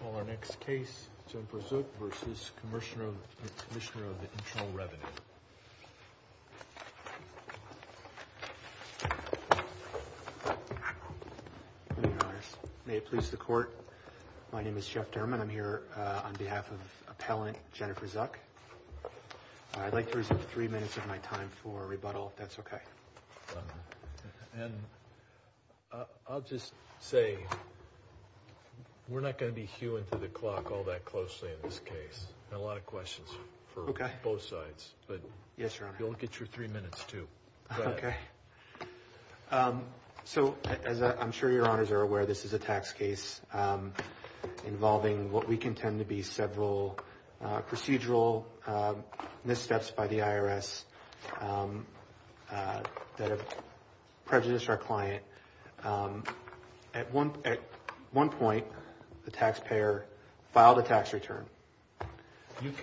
For our next case, Jennifer Zuch v. Commissioner Internal Revenue May it please the court. My name is Jeff Derman. I'm here on behalf of Appellant Jennifer Zuch. I'd like to reserve three minutes. We're not going to be hewing through the clock all that closely in this case. There are a lot of questions for both sides. Yes, Your Honor. You'll get your three minutes, too. I'm sure Your Honors are aware this is a tax case involving what we contend to be several procedural missteps by the IRS that have prejudiced our client. At one point, the taxpayer filed a tax return. Let's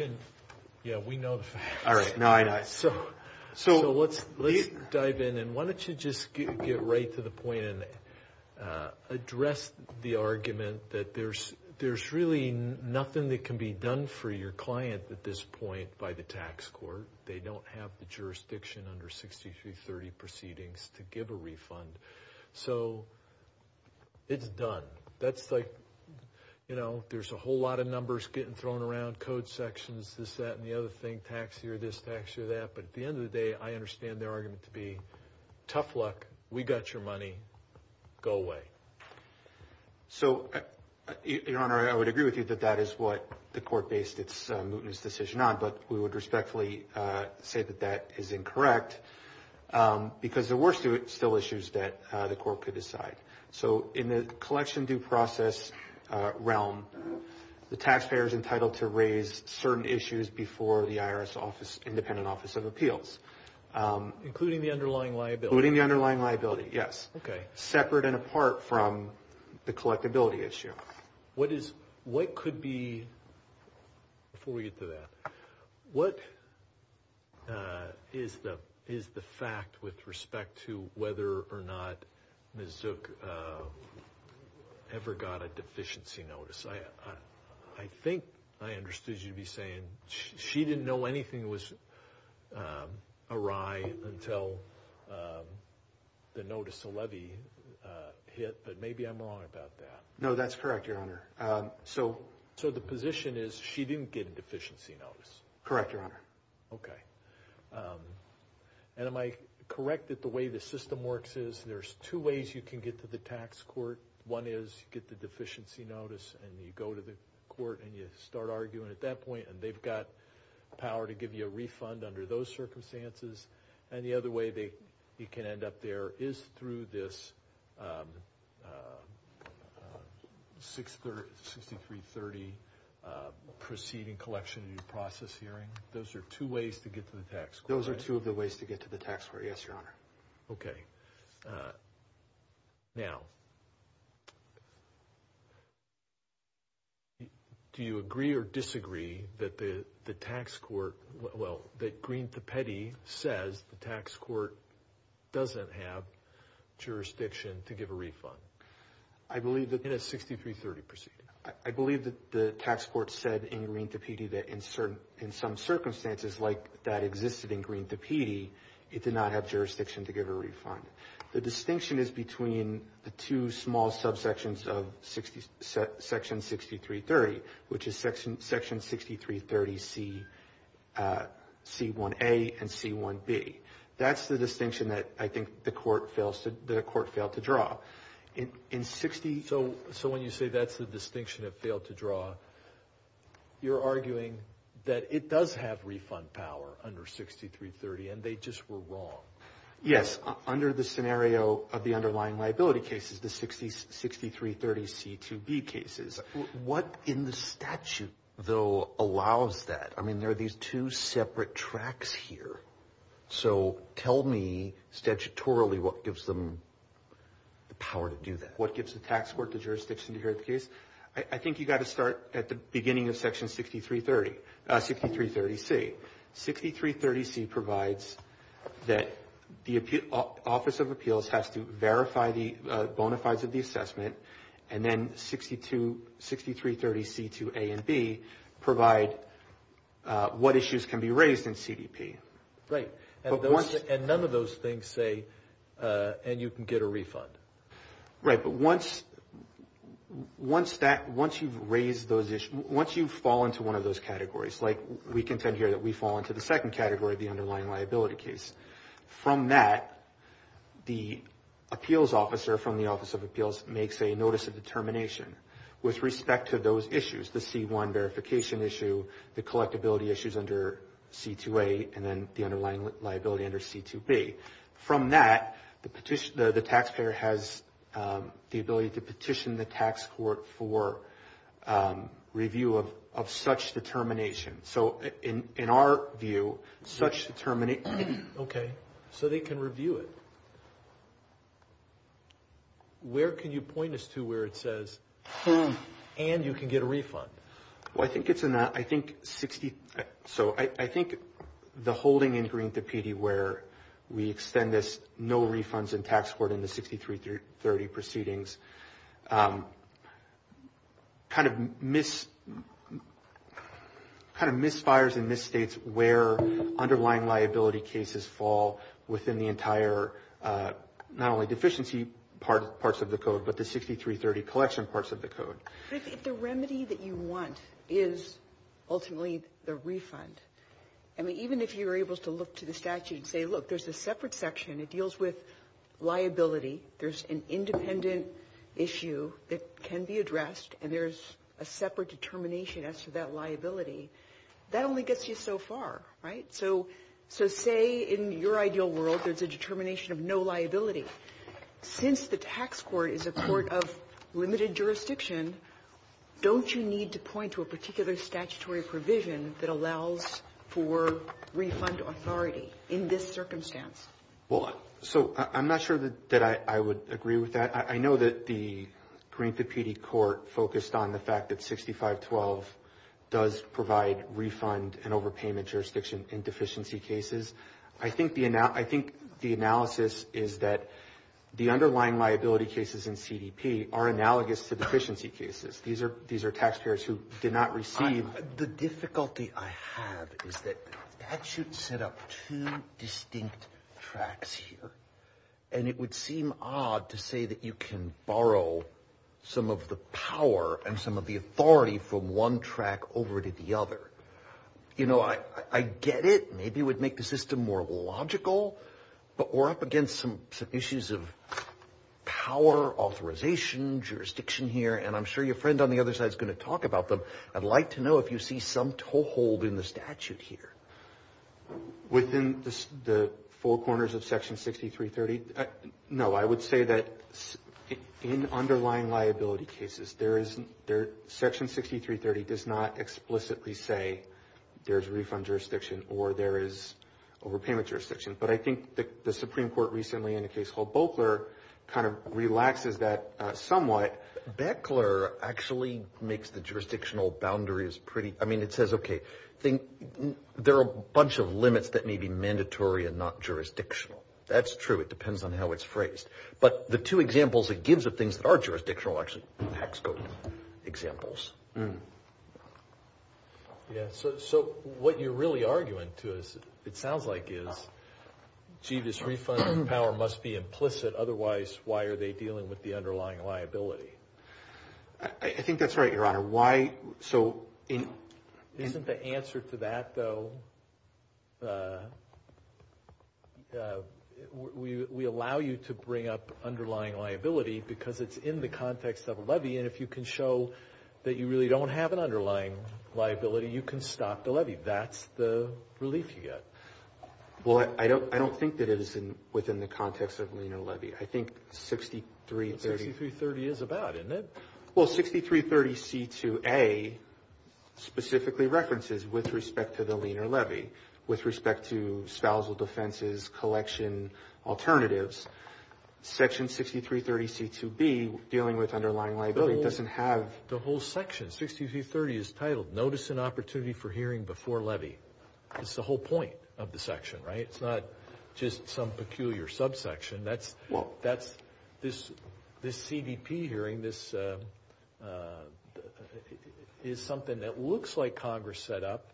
dive in. Why don't you just get right to the point and address the argument that there's really nothing that can be done for your client at this point by the tax court. They don't have the jurisdiction under 6330 proceedings to give a refund. It's done. That's like, you know, there's a whole lot of numbers getting thrown around, code sections, this, that, and the other thing, tax here, this, tax here, that. But at the end of the day, I understand the argument to be tough luck. We got your money. Go away. So, Your Honor, I would agree with you that that is what the court based its mootness decision on, but we would respectfully say that that is incorrect because there were still issues that the court could decide. So in the collection due process realm, the taxpayer is entitled to raise certain issues before the IRS office, independent office of appeals. Including the underlying liability. Including the underlying liability, yes. Okay. Separate and apart from the collectability issue. What is, what could be, before we get to that, what is the fact with respect to whether or not Ms. Zook ever got a deficiency notice? I think I understood you to be saying she didn't know anything was awry until the notice of levy hit, but maybe I'm wrong about that. No, that's correct, Your Honor. So, so the position is she didn't get a deficiency notice. Correct, Your Honor. Okay. And am I correct that the way the system works is there's two ways you can get to the tax court. One is you get the deficiency notice and you go to the court and you start arguing at that point and they've got power to give you a refund under those circumstances. And the other way you can end up there is through this 6330 proceeding collection due process hearing. Those are two ways to get to the tax court. Those are two of the ways to get to the tax court, yes, Your Honor. Okay. Now, do you agree or disagree that the tax court, well, that Greene-Tapete says the tax court doesn't have jurisdiction to give a refund? I believe that... In a 6330 proceeding. The distinction is between the two small subsections of section 6330, which is section 6330C1A and C1B. That's the distinction that I think the court failed to draw. So when you say that's the distinction it failed to draw, you're arguing that it does have refund power under 6330 and they just were wrong. Yes, under the scenario of the underlying liability cases, the 6330C2B cases. What in the statute, though, allows that? I mean, there are these two separate tracks here. So tell me statutorily what gives them the power to do that. What gives the tax court the jurisdiction to hear the case? I think you've got to start at the beginning of section 6330, 6330C. 6330C provides that the Office of Appeals has to verify the bona fides of the assessment, and then 6330C2A and B provide what issues can be raised in CDP. Right. And none of those things say, and you can get a refund. Right. Once that, once you've raised those issues, once you fall into one of those categories, like we contend here that we fall into the second category of the underlying liability case. From that, the appeals officer from the Office of Appeals makes a notice of determination with respect to those issues, the C1 verification issue, the collectability issues under C2A, and then the underlying liability under C2B. From that, the taxpayer has the ability to petition the tax court for review of such determination. So in our view, such determination. Okay. So they can review it. Where can you point us to where it says, and you can get a refund? Well, I think it's in the, I think 60, so I think the holding in Green-Tapiti, where we extend this no refunds in tax court in the 6330 proceedings, kind of misfires and misstates where underlying liability cases fall within the entire, not only deficiency parts of the code, but the 6330 collection parts of the code. The remedy that you want is ultimately the refund. I mean, even if you're able to look to the statute and say, look, there's a separate section that deals with liability. There's an independent issue that can be addressed, and there's a separate determination as to that liability. That only gets you so far, right? So say in your ideal world there's a determination of no liability. Since the tax court is a court of limited jurisdiction, don't you need to point to a particular statutory provision that allows for refund authority in this circumstance? Well, so I'm not sure that I would agree with that. I know that the Green-Tapiti court focused on the fact that 6512 does provide refund and overpayment jurisdiction in deficiency cases. I think the analysis is that the underlying liability cases in CDP are analogous to deficiency cases. These are taxpayers who did not receive. The difficulty I have is that statute set up two distinct tracks here, and it would seem odd to say that you can borrow some of the power and some of the authority from one track over to the other. You know, I get it. Maybe it would make the system more logical, but we're up against some issues of power, authorization, jurisdiction here, and I'm sure your friend on the other side is going to talk about them. I'd like to know if you see some toehold in the statute here. Within the four corners of Section 6330? No, I would say that in underlying liability cases, Section 6330 does not explicitly say there's refund jurisdiction or there is overpayment jurisdiction, but I think the Supreme Court recently in a case called Boeckler kind of relaxes that somewhat. Boeckler actually makes the jurisdictional boundaries pretty – I mean, it says, okay, there are a bunch of limits that may be mandatory and not jurisdictional. That's true. It depends on how it's phrased. But the two examples it gives are things that are jurisdictional are actually tax code examples. Yeah, so what you're really arguing to us, it sounds like, is, gee, this refund power must be implicit. Otherwise, why are they dealing with the underlying liability? I think that's right, Your Honor. Isn't the answer to that, though, we allow you to bring up underlying liability because it's in the context of a levy, and if you can show that you really don't have an underlying liability, you can stop the levy. That's the relief you get. Well, I don't think that it is within the context of a lien or levy. I think 6330 – 6330 is about, isn't it? Well, 6330C2A specifically references with respect to the lien or levy, with respect to spousal defenses, collection alternatives. Section 6330C2B, dealing with underlying liability, doesn't have the whole section. 6330 is titled Notice and Opportunity for Hearing Before Levy. That's the whole point of the section, right? It's not just some peculiar subsection. This CBP hearing is something that looks like Congress set up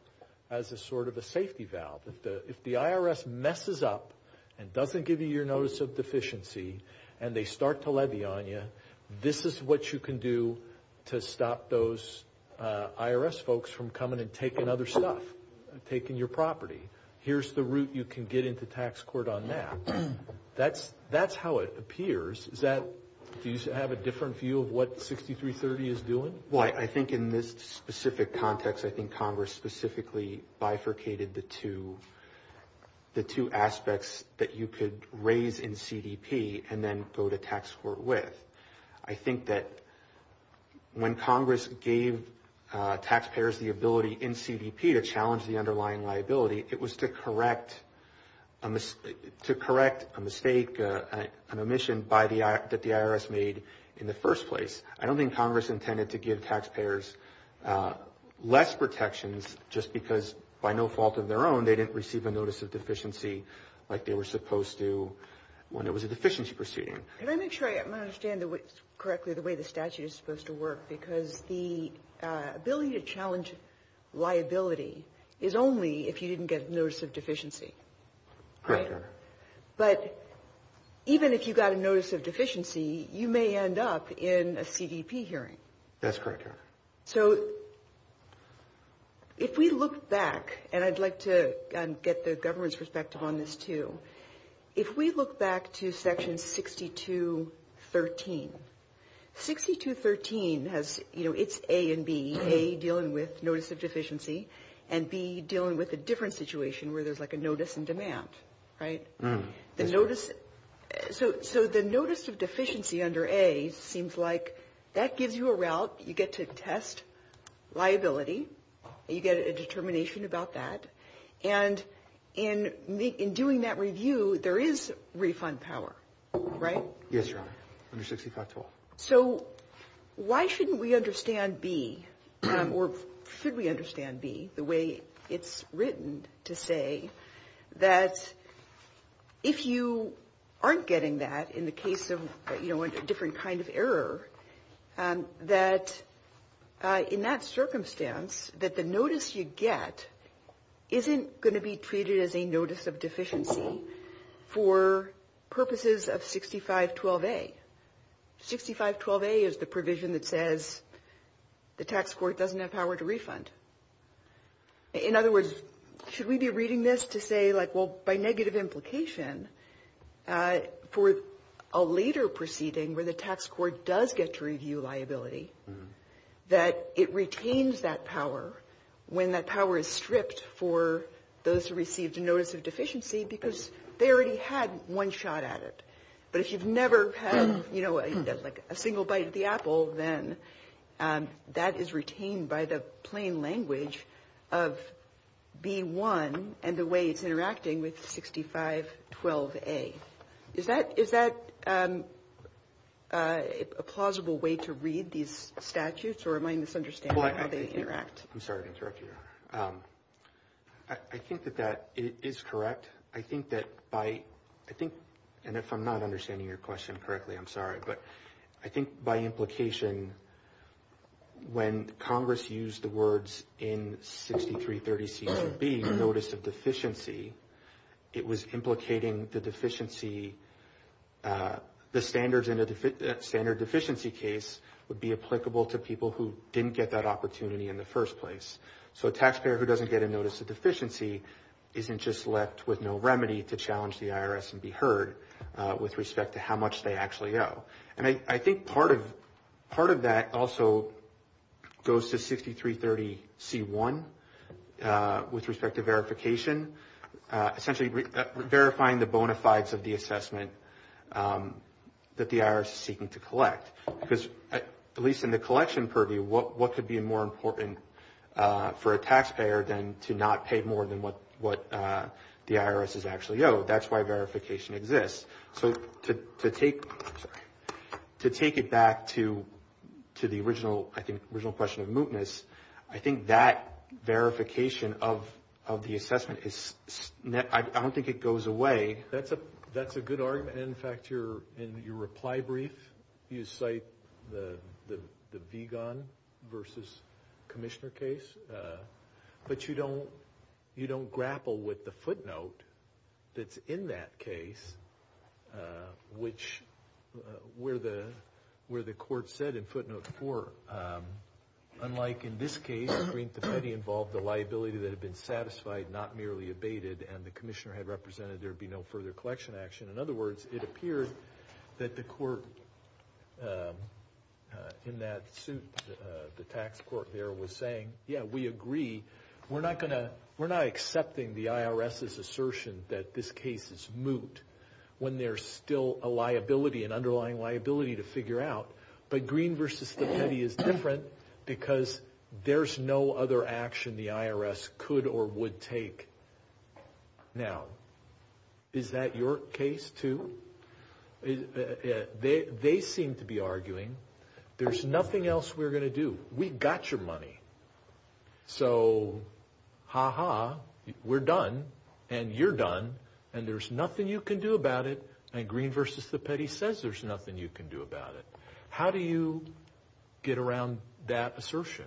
as a sort of a safety valve. If the IRS messes up and doesn't give you your notice of deficiency and they start to levy on you, this is what you can do to stop those IRS folks from coming and taking other stuff, taking your property. Here's the route you can get into tax court on that. That's how it appears. Do you have a different view of what 6330 is doing? Well, I think in this specific context, I think Congress specifically bifurcated the two aspects that you could raise in CBP and then go to tax court with. I think that when Congress gave taxpayers the ability in CBP to challenge the underlying liability, it was to correct a mistake, an omission that the IRS made in the first place. I don't think Congress intended to give taxpayers less protections just because by no fault of their own, they didn't receive a notice of deficiency like they were supposed to when there was a deficiency proceeding. Can I make sure I understand correctly the way the statute is supposed to work? Because the ability to challenge liability is only if you didn't get notice of deficiency. Correct. But even if you got a notice of deficiency, you may end up in a CDP hearing. That's correct. So if we look back, and I'd like to get the government's respect on this too, if we look back to section 6213, 6213 has, you know, it's A and B, A dealing with notice of deficiency and B dealing with a different situation where there's like a notice in demand, right? So the notice of deficiency under A seems like that gives you a route. You get to test liability. You get a determination about that. And in doing that review, there is refund power, right? Yes, Your Honor, under 6512. So why shouldn't we understand B, or should we understand B the way it's written to say that if you aren't getting that, in the case of, you know, a different kind of error, that in that circumstance, that the notice you get isn't going to be treated as a notice of deficiency for purposes of 6512A. 6512A is the provision that says the tax court doesn't have power to refund. In other words, should we be reading this to say, like, well, by negative implication, for a later proceeding where the tax court does get to review liability, that it retains that power when that power is stripped for those who received a notice of deficiency because they already had one shot at it. But if you've never had, you know, like, a single bite of the apple, then that is retained by the plain language of B1 and the way it's interacting with 6512A. Is that a plausible way to read these statutes, or am I misunderstanding how they interact? I'm sorry to interrupt you, Your Honor. I think that that is correct. I think that by, I think, and if I'm not understanding your question correctly, I'm sorry. But I think by implication, when Congress used the words in 6330CCB, notice of deficiency, it was implicating the deficiency, the standards in a standard deficiency case would be applicable to people who didn't get that opportunity in the first place. So a taxpayer who doesn't get a notice of deficiency isn't just left with no remedy to challenge the IRS and be heard with respect to how much they actually owe. And I think part of that also goes to 6330C1 with respect to verification, essentially verifying the bona fides of the assessment that the IRS is seeking to collect. Because at least in the collection purview, what could be more important for a taxpayer than to not pay more than what the IRS is actually owed? That's why verification exists. So to take it back to the original question of mootness, I think that verification of the assessment, I don't think it goes away. That's a good argument. And, in fact, in your reply brief, you cite the Vigon v. Commissioner case, but you don't grapple with the footnote that's in that case, which where the court said in footnote 4, unlike in this case, the green patente involved a liability that had been satisfied, not merely abated, and the Commissioner had represented there would be no further collection action. In other words, it appeared that the court in that suit, the tax court there, was saying, yeah, we agree, we're not accepting the IRS's assertion that this case is moot when there's still a liability, an underlying liability to figure out. But green v. patente is different because there's no other action the IRS could or would take. Now, is that your case, too? They seem to be arguing there's nothing else we're going to do. We've got your money. So, ha-ha, we're done, and you're done, and there's nothing you can do about it, and green v. patente says there's nothing you can do about it. How do you get around that assertion?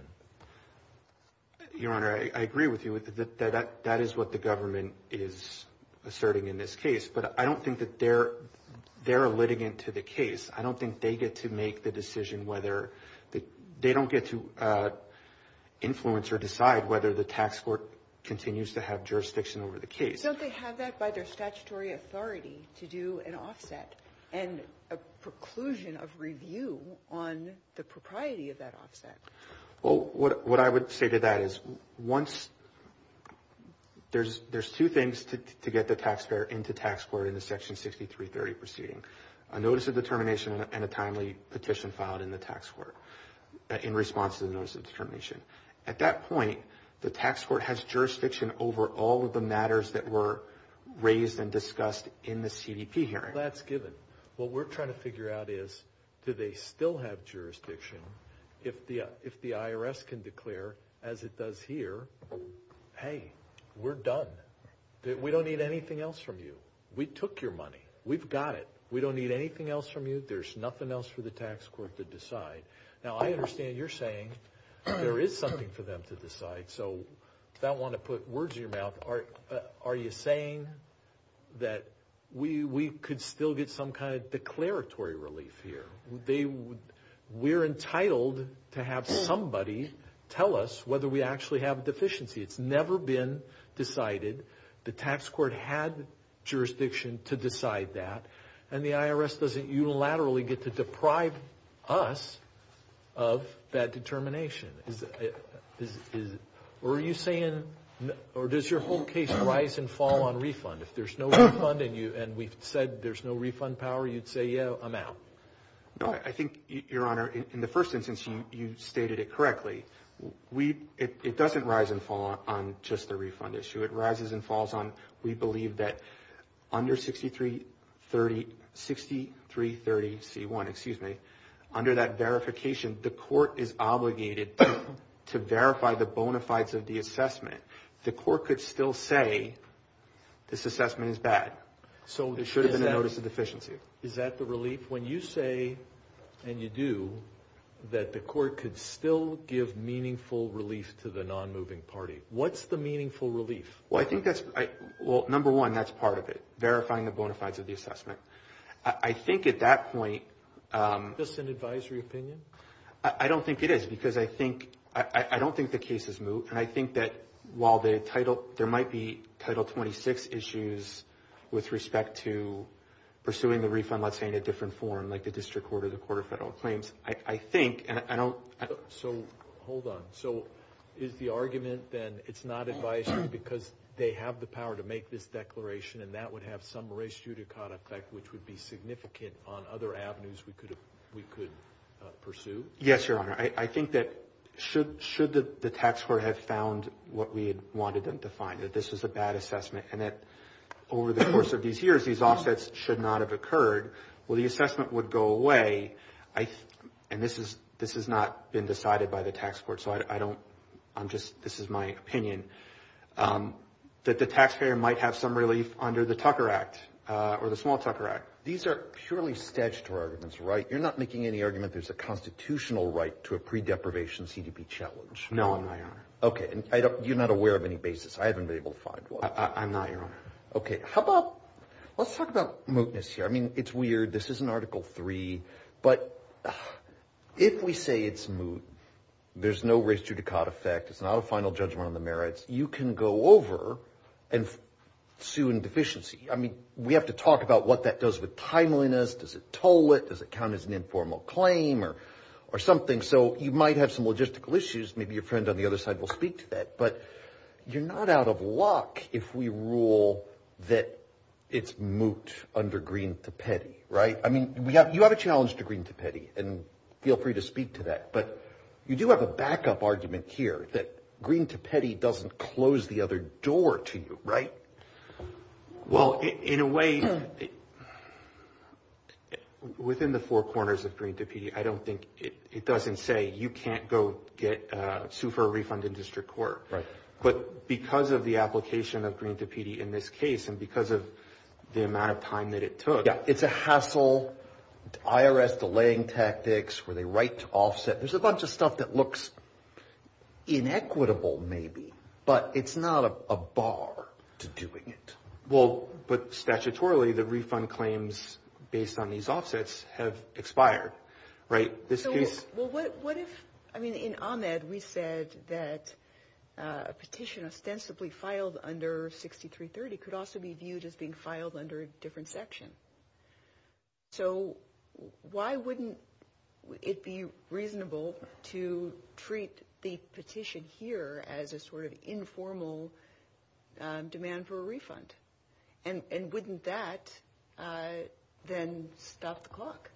Your Honor, I agree with you. That is what the government is asserting in this case, but I don't think that they're litigant to the case. I don't think they get to make the decision whether they don't get to influence or decide whether the tax court continues to have jurisdiction over the case. Don't they have that by their statutory authority to do an offset and a preclusion of review on the propriety of that offset? Well, what I would say to that is there's two things to get the taxpayer into tax court in the Section 6330 proceeding, a notice of determination and a timely petition filed in the tax court in response to the notice of determination. At that point, the tax court has jurisdiction over all of the matters that were raised and discussed in the CDP hearing. That's given. What we're trying to figure out is do they still have jurisdiction if the IRS can declare, as it does here, hey, we're done, we don't need anything else from you. We took your money. We've got it. We don't need anything else from you. There's nothing else for the tax court to decide. Now, I understand you're saying there is something for them to decide, so I don't want to put words in your mouth. Are you saying that we could still get some kind of declaratory relief here? We're entitled to have somebody tell us whether we actually have a deficiency. It's never been decided. The tax court had jurisdiction to decide that, and the IRS doesn't unilaterally get to deprive us of that determination. Or are you saying, or does your whole case rise and fall on refund? If there's no refund and we've said there's no refund power, you'd say, yeah, I'm out. No, I think, Your Honor, in the first instance, you stated it correctly. It doesn't rise and fall on just the refund issue. It rises and falls on we believe that under 6330C1, under that verification, the court is obligated to verify the bona fides of the assessment. The court could still say this assessment is bad. It shows a notice of deficiency. Is that the relief? When you say, and you do, that the court could still give meaningful relief to the non-moving party, what's the meaningful relief? Well, number one, that's part of it, verifying the bona fides of the assessment. I think at that point— Is this an advisory opinion? I don't think it is because I don't think the case is moot, and I think that while there might be Title 26 issues with respect to pursuing the refund, let's say in a different form like the District Court or the Court of Federal Claims, I think, and I don't— So hold on. So is the argument then it's not advisory because they have the power to make this declaration and that would have some race judicata effect, which would be significant on other avenues we could pursue? Yes, Your Honor. I think that should the tax court have found what we had wanted them to find, that this is a bad assessment and that over the course of these years these offsets should not have occurred, well, the assessment would go away. And this has not been decided by the tax court, so I don't—I'm just—this is my opinion, that the taxpayer might have some relief under the Tucker Act or the Small Tucker Act. These are purely statutory arguments, right? You're not making any argument there's a constitutional right to a pre-deprivation CDP challenge. No, I'm not, Your Honor. Okay. You're not aware of any basis. I haven't been able to find one. I'm not, Your Honor. Okay. How about—let's talk about mootness here. I mean, it's weird. This isn't Article III, but if we say it's moot, there's no race judicata effect, it's not a final judgment on the merits, you can go over and sue in deficiency. I mean, we have to talk about what that does with timeliness, does it toll it, does it count as an informal claim or something. So you might have some logistical issues. Maybe your friend on the other side will speak to that. But you're not out of luck if we rule that it's moot under Greene to Petty, right? I mean, you have a challenge to Greene to Petty, and feel free to speak to that. But you do have a backup argument here that Greene to Petty doesn't close the other door to you, right? Well, in a way, within the four corners of Greene to Petty, I don't think it doesn't say you can't go sue for a refund in district court. But because of the application of Greene to Petty in this case, and because of the amount of time that it took— Yeah, it's a hassle, IRS delaying tactics, were they right to offset? There's a bunch of stuff that looks inequitable maybe, but it's not a bar to doing it. Well, but statutorily, the refund claims based on these offsets have expired, right? Well, what if—I mean, in Ahmed, we said that a petition ostensibly filed under 6330 could also be viewed as being filed under a different section. So why wouldn't it be reasonable to treat the petition here as a sort of informal demand for a refund? And wouldn't that then stop the clock?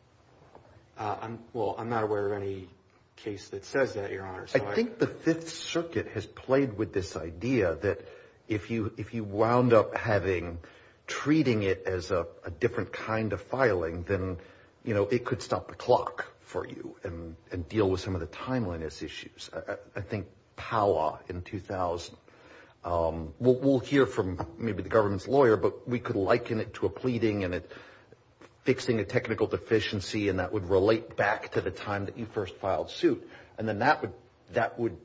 Well, I'm not aware of any case that says that, Your Honor. I think the Fifth Circuit has played with this idea that if you wound up treating it as a different kind of filing, then it could stop the clock for you and deal with some of the timeliness issues. I think Powell in 2000—we'll hear from maybe the government's lawyer, but we could liken it to a pleading and fixing a technical deficiency, and that would relate back to the time that you first filed suit. And then that would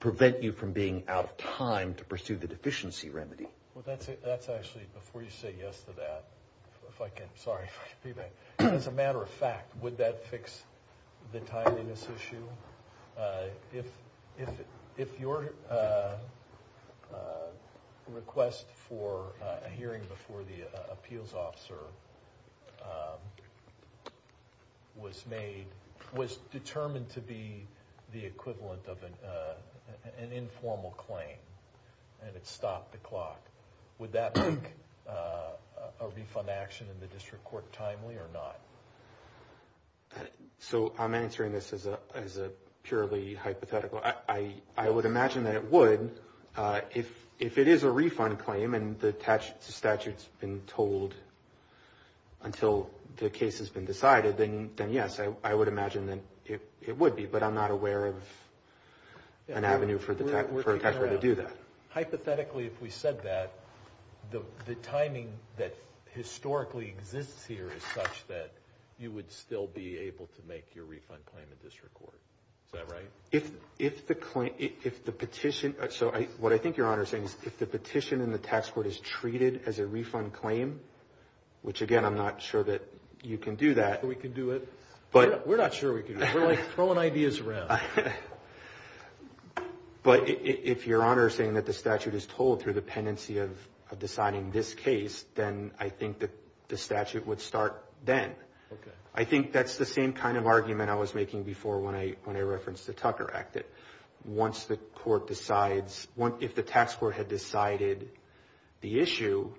prevent you from being out of time to pursue the deficiency remedy. Well, that's actually—before you say yes to that, if I can—sorry. As a matter of fact, would that fix the timeliness issue? If your request for a hearing before the appeals officer was made—was determined to be the equivalent of an informal claim and it stopped the clock, would that be a refund action in the district court timely or not? So I'm answering this as a purely hypothetical. I would imagine that it would. If it is a refund claim and the statute's been told until the case has been decided, then yes, I would imagine that it would be. But I'm not aware of an avenue for a taxpayer to do that. Hypothetically, if we said that, the timing that historically exists here is such that you would still be able to make your refund claim at district court. Is that right? If the petition—so what I think Your Honor is saying is if the petition in the tax court is treated as a refund claim, which, again, I'm not sure that you can do that— We can do it. We're not sure we can do it. We're throwing ideas around. But if Your Honor is saying that the statute is told through the pendency of deciding this case, then I think the statute would start then. I think that's the same kind of argument I was making before when I referenced the Tucker Act. Once the court decides—if the tax court had decided the issue,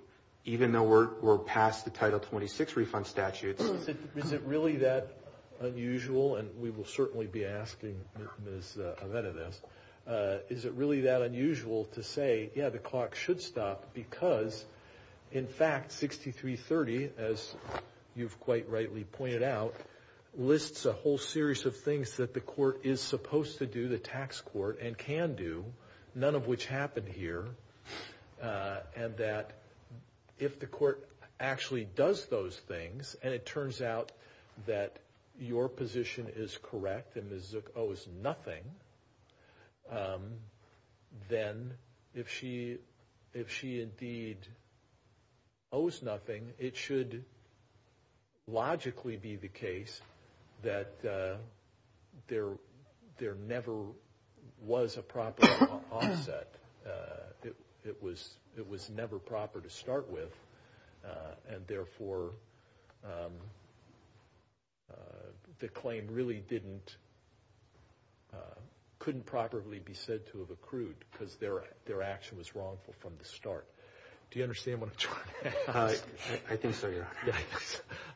even though we're past the Title 26 refund statute— is it really that unusual—and we will certainly be asking Ms. Avedon this— is it really that unusual to say, yeah, the clock should stop because, in fact, 6330, as you've quite rightly pointed out, lists a whole series of things that the court is supposed to do, the tax court, and can do, none of which happened here, and that if the court actually does those things and it turns out that your position is correct and Ms. Zook owes nothing, then if she indeed owes nothing, it should logically be the case that there never was a proper offset. It was never proper to start with, and therefore the claim really couldn't properly be said to have accrued because their action was wrongful from the start. Do you understand what I'm trying to say? I think so, Your Honor.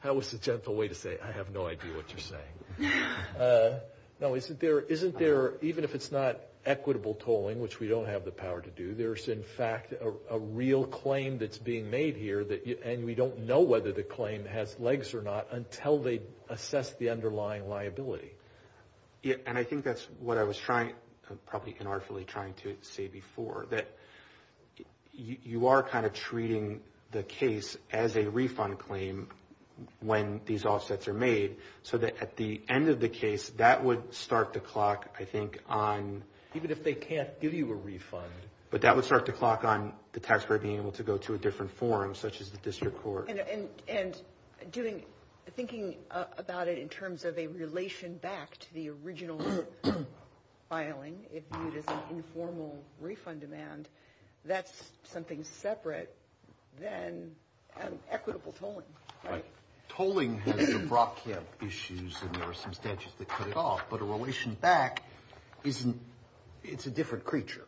That was a gentle way to say, I have no idea what you're saying. No, isn't there—even if it's not equitable tolling, which we don't have the power to do, there's, in fact, a real claim that's being made here, and we don't know whether the claim has legs or not until they assess the underlying liability. Yeah, and I think that's what I was trying—probably unartily trying to say before, that you are kind of treating the case as a refund claim when these offsets are made, so that at the end of the case, that would start the clock, I think, on— Even if they can't give you a refund. But that would start the clock on the taxpayer being able to go to a different forum, such as the district court. And doing—thinking about it in terms of a relation back to the original filing, if you use an informal refund demand, that's something separate than an equitable tolling. Right. Tolling has brought down issues, and there are some statutes that cut it off, but a relation back isn't—it's a different creature.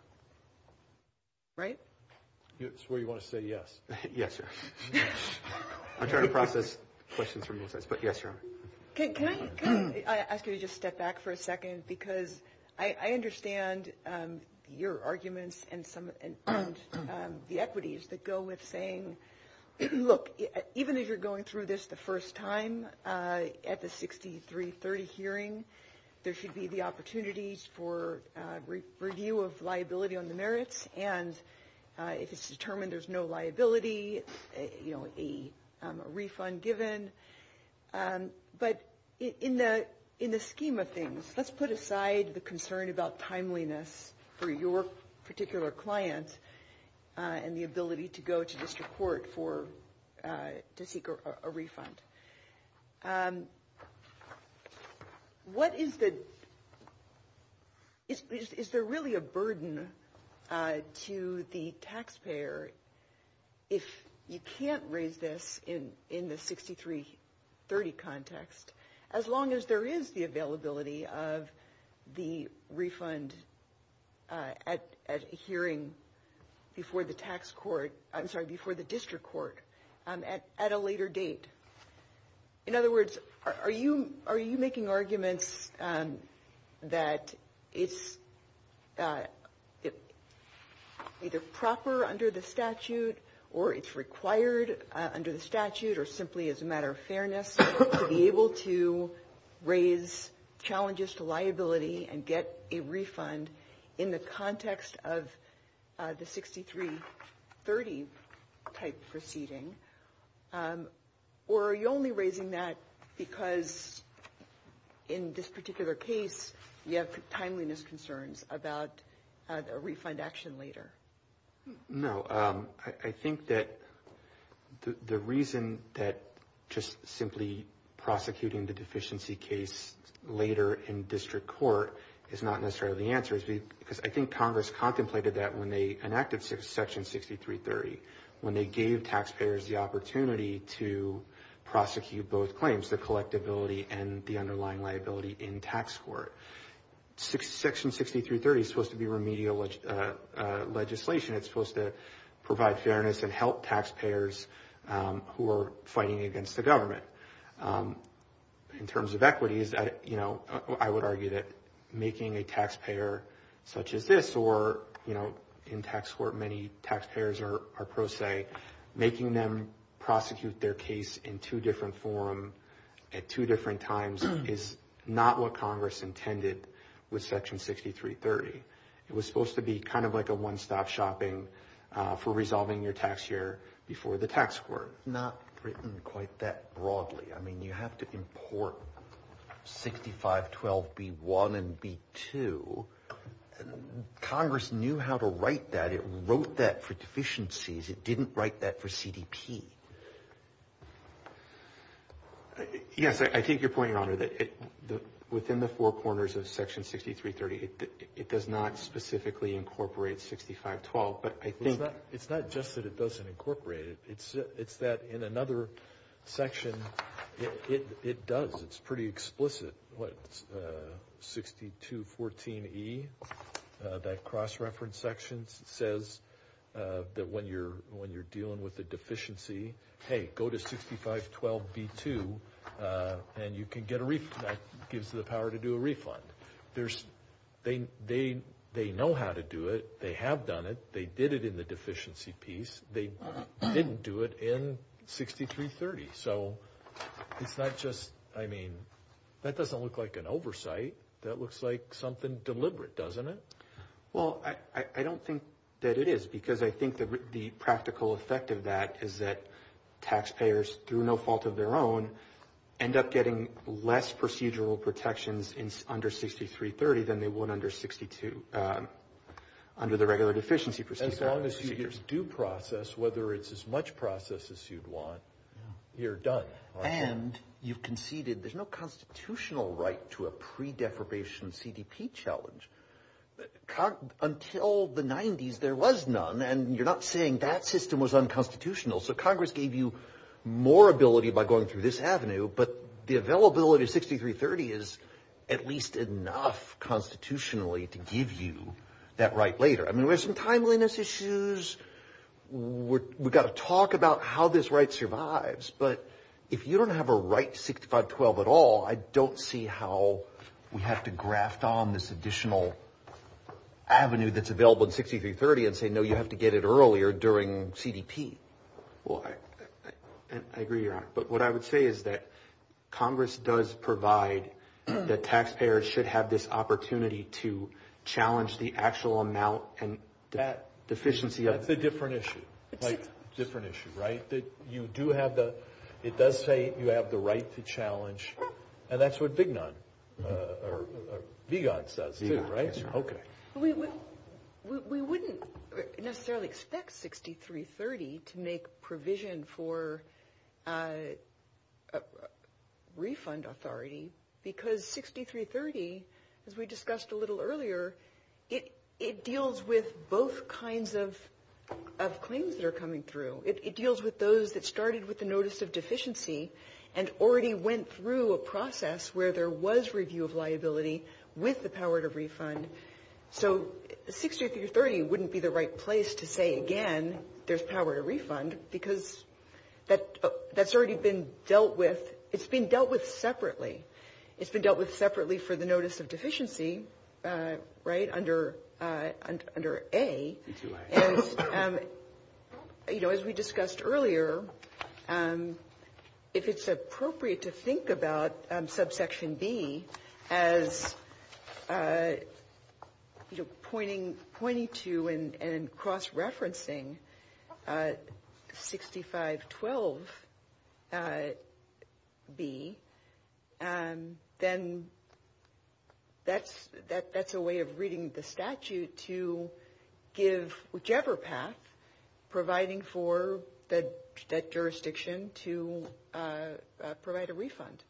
Right? I swear you want to say yes. Yes, sir. I'm trying to process questions from your face, but yes, sir. Can I ask you to just step back for a second? Because I understand your arguments and some of the equities that go with saying, look, even if you're going through this the first time at the 6330 hearing, there should be the opportunities for review of liability on the merits, and if it's determined there's no liability, a refund given. But in the scheme of things, let's put aside the concern about timeliness for your particular client and the ability to go to district court to seek a refund. What is the—is there really a burden to the taxpayer if you can't raise this in the 6330 context, as long as there is the availability of the refund at a hearing before the district court at a later date? In other words, are you making arguments that it's either proper under the statute or it's required under the statute or simply as a matter of fairness to be able to raise challenges to liability and get a refund in the context of the 6330-type proceeding? Or are you only raising that because in this particular case, you have timeliness concerns about a refund action later? No, I think that the reason that just simply prosecuting the deficiency case later in district court is not necessarily the answer, because I think Congress contemplated that when they enacted Section 6330, when they gave taxpayers the opportunity to prosecute both claims, the collectability and the underlying liability in tax court. Section 6330 is supposed to be remedial legislation. It's supposed to provide fairness and help taxpayers who are fighting against the government. In terms of equities, I would argue that making a taxpayer such as this, or in tax court, many taxpayers are pro se, making them prosecute their case in two different forms at two different times is not what Congress intended with Section 6330. It was supposed to be kind of like a one-stop shopping for resolving your tax year before the tax court. Not written quite that broadly. I mean, you have to import 6512B1 and B2. Congress knew how to write that. It wrote that for deficiencies. It didn't write that for CDP. Yes, I think you're pointing out that within the four corners of Section 6330, it does not specifically incorporate 6512, but I think... It's not just that it doesn't incorporate it. It's that in another section, it does. It's pretty explicit what 6214E, that cross-reference section, says that when you're dealing with a deficiency, hey, go to 6512B2 and you can get a refund. That gives you the power to do a refund. They know how to do it. They have done it. They did it in the deficiency piece. They didn't do it in 6330. So it's not just, I mean, that doesn't look like an oversight. That looks like something deliberate, doesn't it? Well, I don't think that it is, because I think the practical effect of that is that taxpayers, through no fault of their own, end up getting less procedural protections under 6330 than they would under 62, under the regular deficiency procedure. As long as you do process, whether it's as much process as you want, you're done. And you conceded there's no constitutional right to a pre-deferbation CDP challenge. Until the 90s, there was none, and you're not saying that system was unconstitutional. So Congress gave you more ability by going through this avenue, but the availability of 6330 is at least enough constitutionally to give you that right later. I mean, there's some timeliness issues. We've got to talk about how this right survives. But if you don't have a right to 6512 at all, I don't see how we have to graft on this additional avenue that's available in 6330 and say, no, you have to get it earlier during CDP. Well, I agree with you on that. But what I would say is that Congress does provide that taxpayers should have this opportunity to challenge the actual amount and that deficiency. That's a different issue, right? That you do have the – it does say you have the right to challenge, and that's what Vignon – or Vigon says, too, right? Okay. We wouldn't necessarily expect 6330 to make provision for a refund authority because 6330, as we discussed a little earlier, it deals with both kinds of claims that are coming through. It deals with those that started with the notice of deficiency and already went through a process where there was review of liability with the power to refund. So 6330 wouldn't be the right place to say, again, there's power to refund because that's already been dealt with – it's been dealt with separately. It's been dealt with separately for the notice of deficiency, right, under A. And, you know, as we discussed earlier, if it's appropriate to think about subsection B as pointing to and cross-referencing 6512B, then that's a way of reading the statute to give whichever PAC providing for that jurisdiction to provide a refund,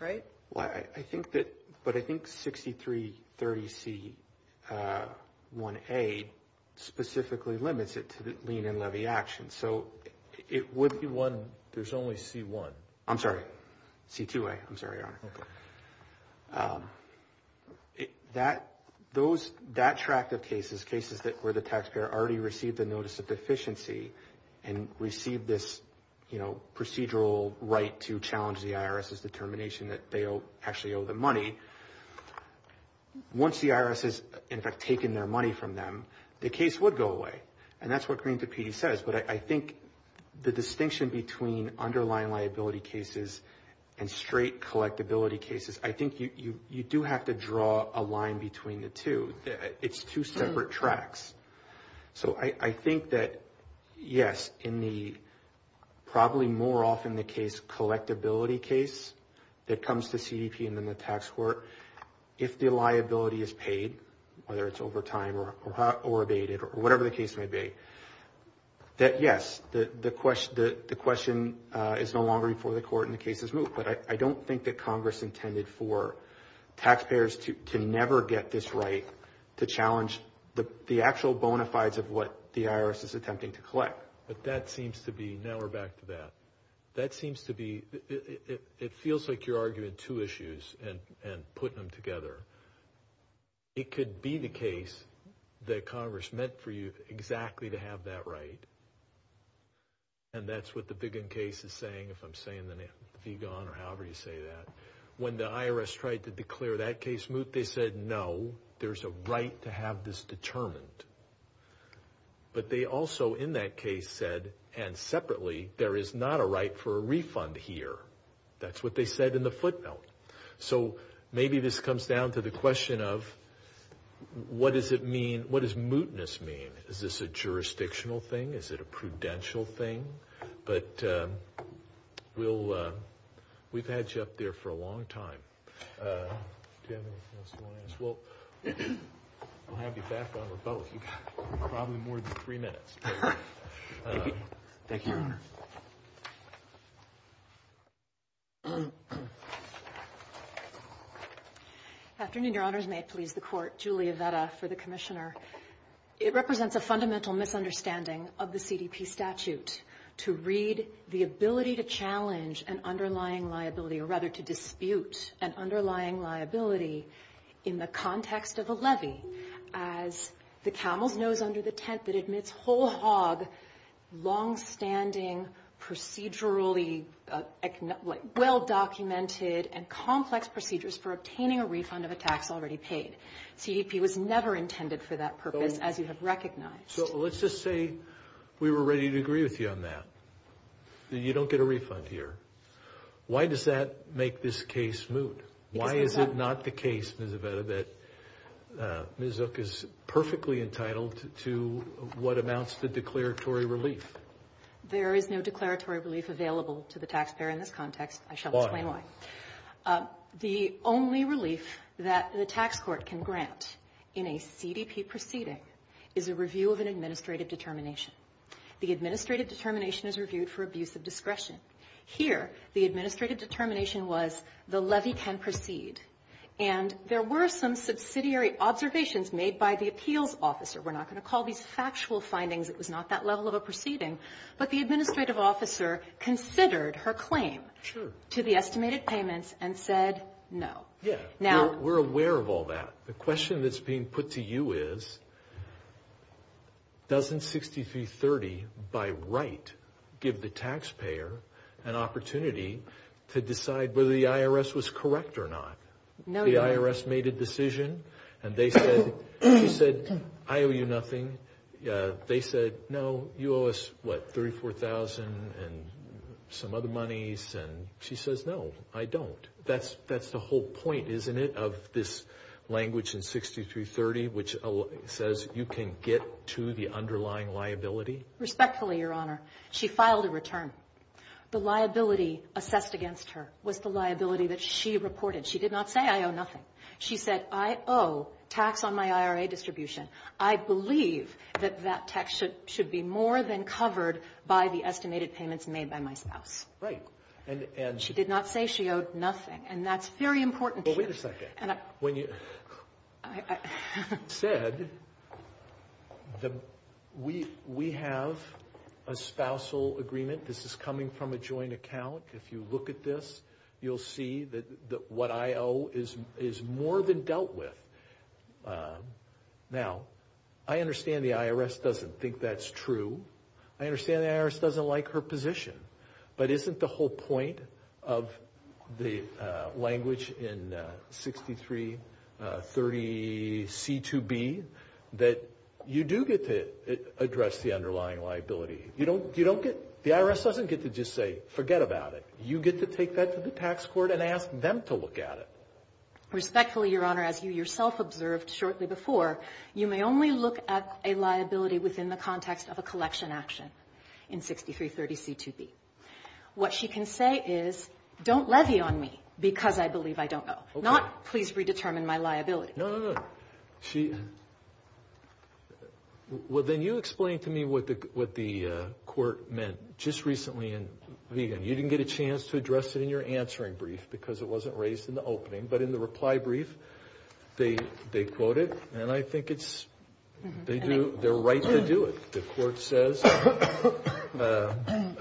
right? I think that – but I think 6330C1A specifically limits it to the lien and levy action. So it would be one – there's only C1. I'm sorry, C2A. I'm sorry, Your Honor. That tract of cases, cases where the taxpayer already received the notice of deficiency and received this procedural right to challenge the IRS's determination that they actually owe the money, once the IRS has, in fact, taken their money from them, the case would go away. And that's what Green-Tapiti says, but I think the distinction between underlying liability cases and straight collectability cases, I think you do have to draw a line between the two. It's two separate tracts. So I think that, yes, in the – probably more often the case collectability case that comes to CDP and then the tax court, if the liability is paid, whether it's over time or abated or whatever the case may be, that, yes, the question is no longer before the court and the case is moved. But I don't think that Congress intended for taxpayers to never get this right to challenge the actual bona fides of what the IRS is attempting to collect. But that seems to be – now we're back to that. That seems to be – it feels like you're arguing two issues and putting them together. It could be the case that Congress meant for you exactly to have that right, and that's what the Biggin case is saying, if I'm saying the name, Vigon or however you say that. When the IRS tried to declare that case moot, they said, no, there's a right to have this determined. But they also, in that case, said, and separately, there is not a right for a refund here. That's what they said in the footnote. So maybe this comes down to the question of what does it mean – what does mootness mean? Is this a jurisdictional thing? Is it a prudential thing? But we'll – we've had you up there for a long time. We'll have you back on the phone in probably more than three minutes. Thank you. Afternoon, Your Honors. May it please the Court. Julia Vetta for the commissioner. It represents a fundamental misunderstanding of the CDP statute to read the ability to challenge an underlying liability, as the camel's nose under the tent that admits whole hog, longstanding, procedurally well-documented and complex procedures for obtaining a refund of a tax already paid. CDP was never intended for that purpose, as you have recognized. So let's just say we were ready to agree with you on that, that you don't get a refund here. Why does that make this case moot? Why is it not the case, Ms. Vetta, that NZUC is perfectly entitled to what amounts to declaratory relief? There is no declaratory relief available to the taxpayer in this context. I shall explain why. The only relief that the tax court can grant in a CDP proceeding is a review of an administrative determination. Here, the administrative determination was the levy can proceed. And there were some subsidiary observations made by the appeals officer. We're not going to call these factual findings. It was not that level of a proceeding. But the administrative officer considered her claim to the estimated payments and said no. We're aware of all that. The question that's being put to you is, doesn't 6330, by right, give the taxpayer an opportunity to decide whether the IRS was correct or not? The IRS made a decision. And they said, I owe you nothing. They said, no, you owe us, what, $34,000 and some other monies. And she says, no, I don't. That's the whole point, isn't it, of this language in 6330, which says you can get to the underlying liability? Respectfully, Your Honor, she filed a return. The liability assessed against her was the liability that she reported. She did not say, I owe nothing. She said, I owe tax on my IRA distribution. I believe that that tax should be more than covered by the estimated payments made by my spouse. Right. She did not say she owed nothing, and that's very important. But wait a second. When you said, we have a spousal agreement. This is coming from a joint account. If you look at this, you'll see that what I owe is more than dealt with. Now, I understand the IRS doesn't think that's true. I understand the IRS doesn't like her position. But isn't the whole point of the language in 6330C2B that you do get to address the underlying liability? The IRS doesn't get to just say, forget about it. You get to take that to the tax court and ask them to look at it. Respectfully, Your Honor, as you yourself observed shortly before, you may only look at a liability within the context of a collection action in 6330C2B. What she can say is, don't levy on me because I believe I don't owe, not please redetermine my liability. No, no, no. Well, then you explain to me what the court meant just recently in reading. You didn't get a chance to address it in your answering brief because it wasn't raised in the opening. But in the reply brief, they quote it, and I think they're right to do it. The court says a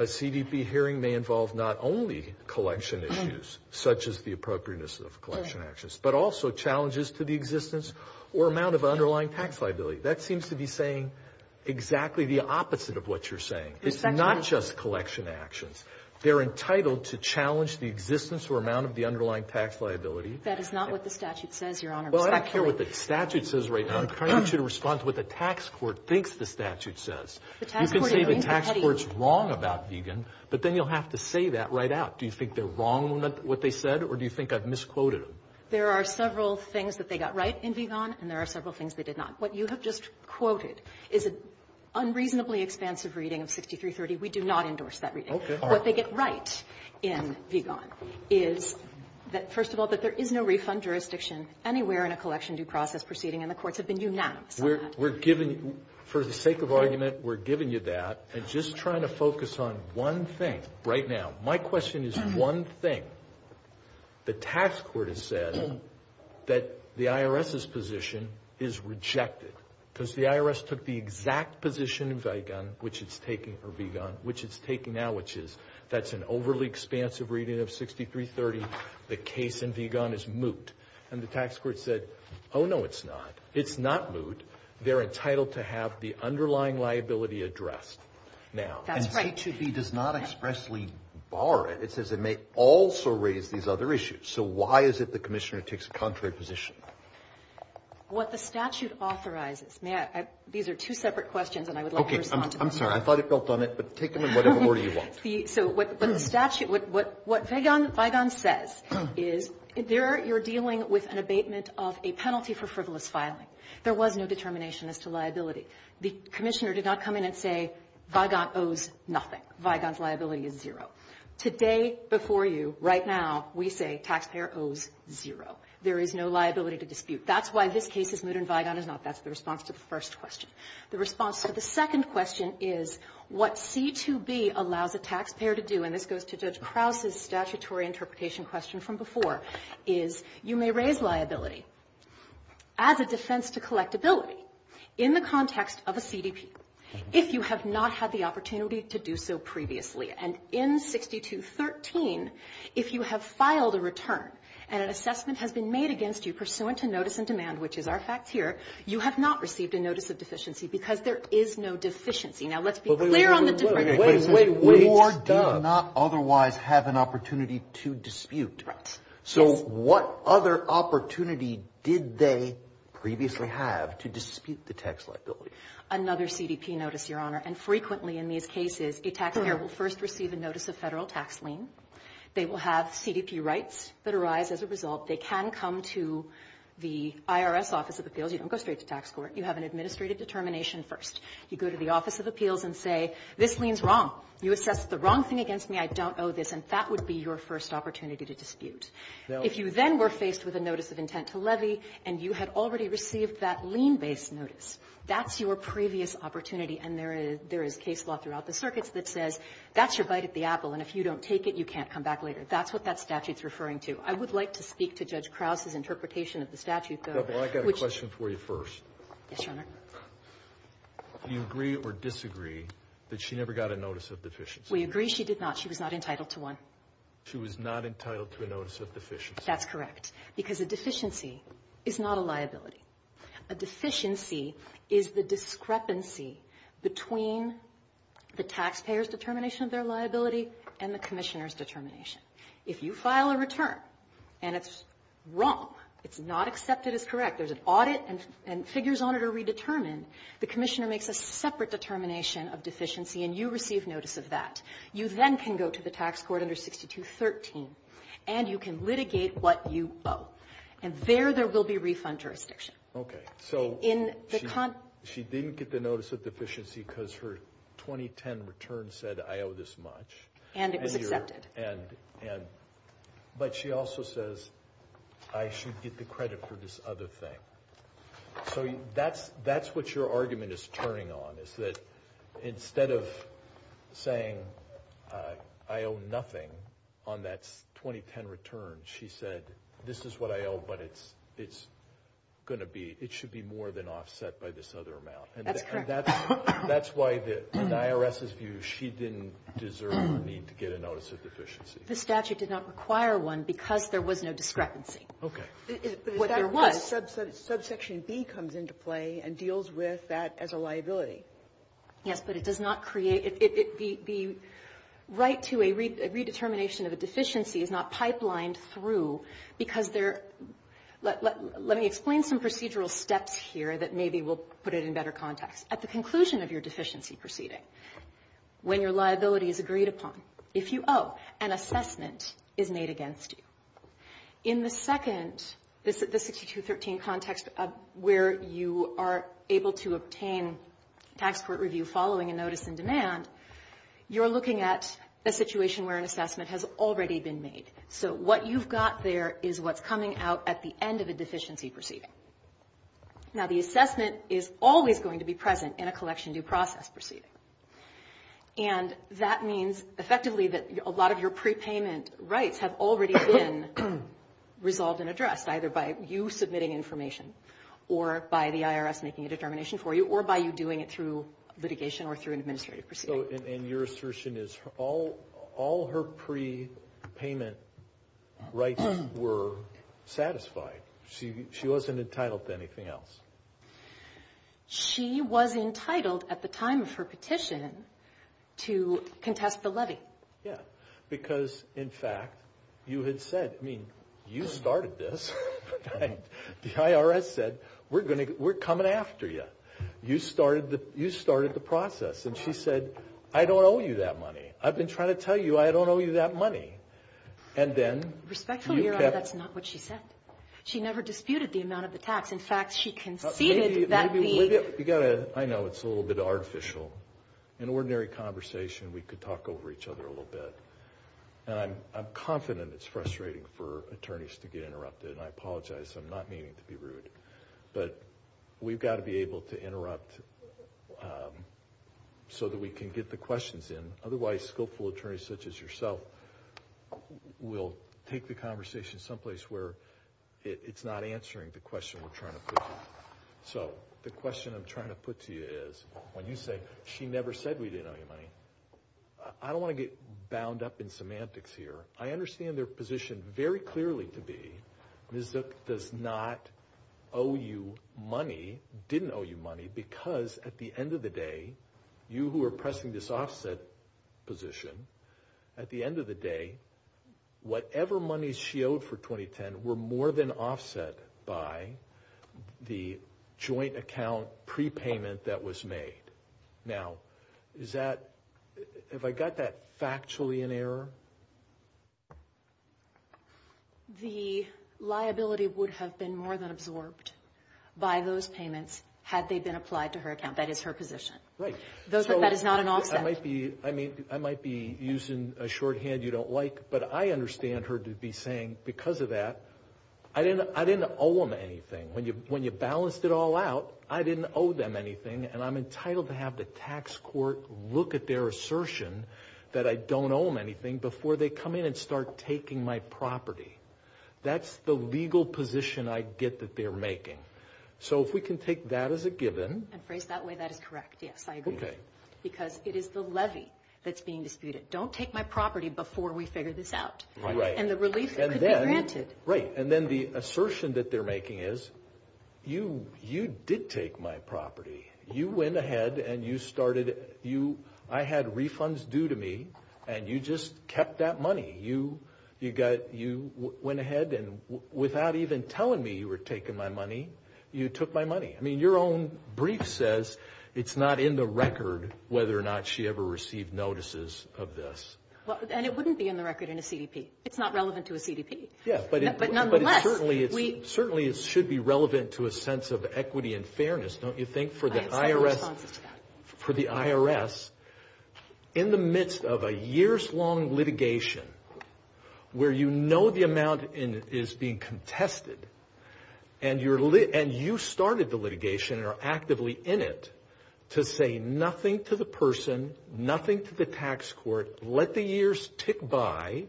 CDP hearing may involve not only collection issues, such as the appropriateness of collection actions, but also challenges to the existence or amount of underlying tax liability. That seems to be saying exactly the opposite of what you're saying. It's not just collection actions. They're entitled to challenge the existence or amount of the underlying tax liability. That is not what the statute says, Your Honor. Well, I don't care what the statute says right now. I'm trying to get you to respond to what the tax court thinks the statute says. You can say the tax court's wrong about Deagon, but then you'll have to say that right out. Do you think they're wrong with what they said, or do you think I've misquoted them? There are several things that they got right in Deagon, and there are several things they did not. What you have just quoted is an unreasonably expansive reading of 6330. We do not endorse that reading. What they get right in Deagon is, first of all, that there is no refund jurisdiction anywhere in a collection due process proceeding, and the courts have been unanimous about that. For the sake of argument, we're giving you that and just trying to focus on one thing right now. My question is one thing. The tax court has said that the IRS's position is rejected because the IRS took the exact position in Deagon, which it's taking now, which is that's an overly expansive reading of 6330. The case in Deagon is moot, and the tax court said, oh, no, it's not. It's not moot. They're entitled to have the underlying liability addressed now. That's right. And H-2B does not expressly bar it. It says it may also raise these other issues, so why is it the commissioner takes a contrary position? What the statute authorizes. These are two separate questions, and I would love for you to answer them. Okay, I'm sorry. I thought it felt done, but take them in whatever order you want. So what Deagon says is you're dealing with an abatement of a penalty for frivolous filing. There was no determination as to liability. The commissioner did not come in and say, Deagon owes nothing. Deagon's liability is zero. The day before you, right now, we say taxpayer owes zero. There is no liability to dispute. That's why this case is moot and Deagon is not. That's the response to the first question. The response to the second question is what C-2B allows a taxpayer to do, and this goes to Judge Krause's statutory interpretation question from before, is you may raise liability as a defense to collectability in the context of a CDP if you have not had the opportunity to do so previously, and in 6213, if you have filed a return and an assessment has been made against you pursuant to notice in demand, which is our facts here, you have not received a notice of deficiency because there is no deficiency. Now, let's be clear on the difference. Wait, wait, wait. Moore does not otherwise have an opportunity to dispute. So what other opportunity did they previously have to dispute the tax liability? Another CDP notice, Your Honor, and frequently in these cases, a taxpayer will first receive a notice of federal tax lien. They will have CDP rights that arise as a result. They can come to the IRS Office of Appeals. You don't go straight to tax court. You have an administrative determination first. You go to the Office of Appeals and say, this lien's wrong. You assessed the wrong thing against me. I don't owe this, and that would be your first opportunity to dispute. If you then were faced with a notice of intent to levy and you had already received that lien-based notice, that's your previous opportunity, and there is case law throughout the circuits that says that's your bite at the apple, and if you don't take it, you can't come back later. That's what that statute's referring to. I would like to speak to Judge Krause's interpretation of the statute, though. I've got a question for you first. Yes, Your Honor. Do you agree or disagree that she never got a notice of deficiency? We agree she did not. She was not entitled to one. She was not entitled to a notice of deficiency. That's correct, because a deficiency is not a liability. A deficiency is the discrepancy between the taxpayer's determination of their liability and the commissioner's determination. If you file a return and it's wrong, it's not accepted as correct, there's an audit and figures on it are redetermined, the commissioner makes a separate determination of deficiency, and you receive notice of that. You then can go to the tax court under 6213, and you can litigate what you owe. And there, there will be refund jurisdiction. Okay. She didn't get the notice of deficiency because her 2010 return said, I owe this much. And it was accepted. But she also says, I should get the credit for this other thing. So that's what your argument is turning on, is that instead of saying, I owe nothing on that 2010 return, she said, this is what I owe, but it's going to be, it should be more than offset by this other amount. That's correct. And that's why, in the IRS's view, she didn't deserve the need to get a notice of deficiency. The statute did not require one because there was no discrepancy. Okay. Subsection B comes into play and deals with that as a liability. Yes, but it does not create, the right to a redetermination of a deficiency is not pipelined through because there, let me explain some procedural steps here that maybe will put it in better context. At the conclusion of your deficiency proceeding, when your liability is agreed upon, if you owe, an assessment is made against you. In the second, the 6213 context where you are able to obtain tax court review following a notice in demand, you're looking at a situation where an assessment has already been made. So what you've got there is what's coming out at the end of a deficiency proceeding. Now, the assessment is always going to be present in a collection due process proceeding. And that means, effectively, that a lot of your prepayment rights have already been resolved and addressed, either by you submitting information or by the IRS making a determination for you or by you doing it through litigation or through an administrative proceeding. And your assertion is all her prepayment rights were satisfied. She wasn't entitled to anything else. She was entitled, at the time of her petition, to contest the levy. Yeah, because, in fact, you had said, I mean, you started this. The IRS said, we're coming after you. You started the process. And she said, I don't owe you that money. I've been trying to tell you I don't owe you that money. And then you kept... Respectfully, Your Honor, that's not what she said. She never disputed the amount of the tax. In fact, she conceded that fee. I know it's a little bit artificial. In ordinary conversation, we could talk over each other a little bit. And I'm confident it's frustrating for attorneys to get interrupted. And I apologize. I'm not meaning to be rude. But we've got to be able to interrupt so that we can get the questions in. Otherwise, skillful attorneys such as yourself will take the conversation someplace where it's not answering the question we're trying to put to you. So the question I'm trying to put to you is, when you say, she never said we didn't owe you money, I don't want to get bound up in semantics here. I understand their position very clearly to be NZIP does not owe you money, didn't owe you money, because at the end of the day, you who are pressing this offset position, at the end of the day, whatever money she owed for 2010 were more than offset by the joint account prepayment that was made. Now, is that, have I got that factually in error? The liability would have been more than absorbed by those payments had they been applied to her account. That is her position. Right. That is not an offset. I might be using a shorthand you don't like, but I understand her to be saying, because of that, I didn't owe them anything. When you balanced it all out, I didn't owe them anything, and I'm entitled to have the tax court look at their assertion that I don't owe them anything before they come in and start taking my property. That's the legal position I get that they're making. So if we can take that as a given. And phrase that way, that is correct. Yes, I agree. Okay. Because it is the levy that's being disputed. Don't take my property before we figure this out. Right. And the relief could be granted. Right. And then the assertion that they're making is, you did take my property. You went ahead and you started, I had refunds due to me, and you just kept that money. You went ahead and without even telling me you were taking my money, you took my money. I mean, your own brief says it's not in the record whether or not she ever received notices of this. And it wouldn't be in the record in a CDP. It's not relevant to a CDP. Yeah, but certainly it should be relevant to a sense of equity and fairness, don't you think, for the IRS? For the IRS. In the midst of a years-long litigation where you know the amount is being contested, and you started the litigation and are actively in it to say nothing to the person, nothing to the tax court, let the years tick by,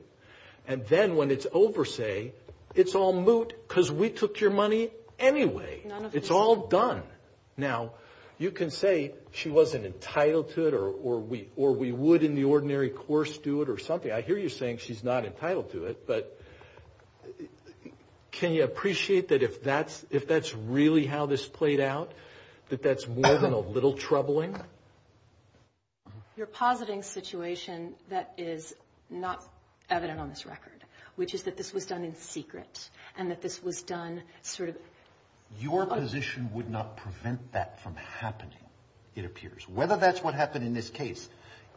and then when it's over, say, it's all moot because we took your money anyway. It's all done. Now, you can say she wasn't entitled to it or we would in the ordinary course do it or something. I hear you saying she's not entitled to it, but can you appreciate that if that's really how this played out, that that's more than a little troubling? You're positing a situation that is not evident on this record, which is that this was done in secret and that this was done through the... Your position would not prevent that from happening, it appears. Whether that's what happened in this case,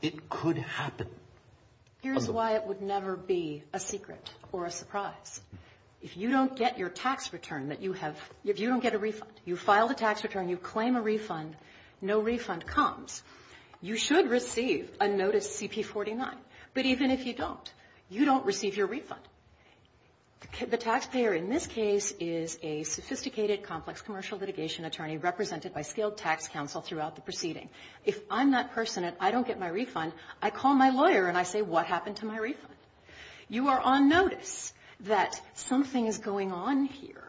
it could happen. Here's why it would never be a secret or a surprise. If you don't get your tax return that you have, if you don't get a refund, you file the tax return, you claim a refund, no refund comes, you should receive a notice CP-49. But even if you don't, you don't receive your refund. The taxpayer in this case is a sophisticated, complex commercial litigation attorney represented by skilled tax counsel throughout the proceeding. If I'm that person and I don't get my refund, I call my lawyer and I say, what happened to my refund? You are on notice that something is going on here,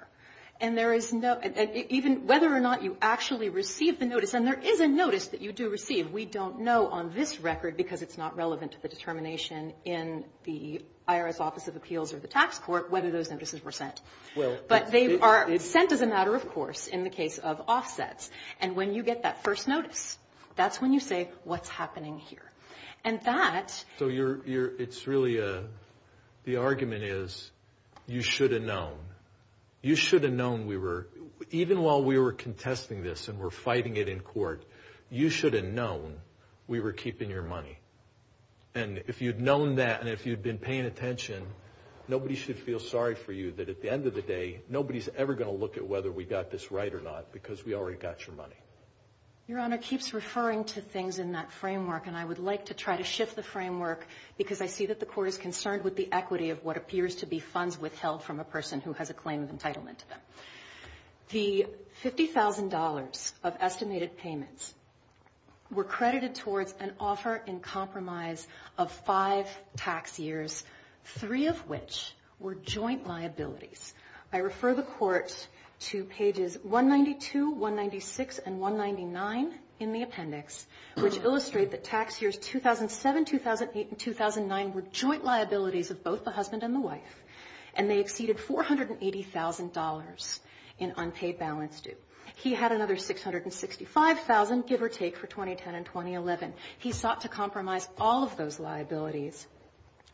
and whether or not you actually receive the notice, and there is a notice that you do receive, we don't know on this record because it's not relevant to the determination in the IRS Office of Appeals or the Tax Court whether those notices were sent. But they are sent as a matter of course in the case of offsets, and when you get that first notice, that's when you say, what's happening here? So it's really, the argument is, you should have known. You should have known we were, even while we were contesting this and were fighting it in court, you should have known we were keeping your money. And if you've known that and if you've been paying attention, nobody should feel sorry for you that at the end of the day, nobody's ever going to look at whether we got this right or not because we already got your money. Your Honor, it keeps referring to things in that framework, and I would like to try to shift the framework because I see that the Court is concerned with the equity of what appears to be funds withheld from a person who has a claim of entitlement to them. The $50,000 of estimated payments were credited towards an offer in compromise of five tax years, three of which were joint liabilities. I refer the Court to pages 192, 196, and 199 in the appendix, which illustrate that tax years 2007, 2008, and 2009 were joint liabilities of both the husband and the wife, and they exceeded $480,000 in unpaid balance due. He had another $665,000, give or take, for 2010 and 2011. He sought to compromise all of those liabilities,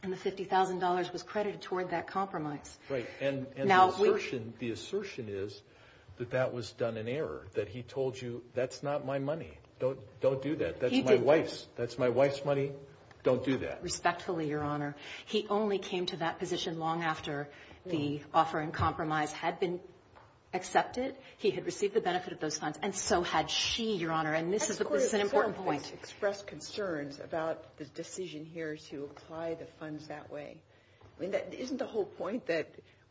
and the $50,000 was credited toward that compromise. Right, and the assertion is that that was done in error, that he told you, that's not my money, don't do that, that's my wife's, that's my wife's money, don't do that. Respectfully, Your Honor, he only came to that position long after the offer in compromise had been accepted. He had received the benefit of those funds, and so had she, Your Honor, and this is, of course, an important point. I don't want to express concerns about the decision here to apply the funds that way. Isn't the whole point that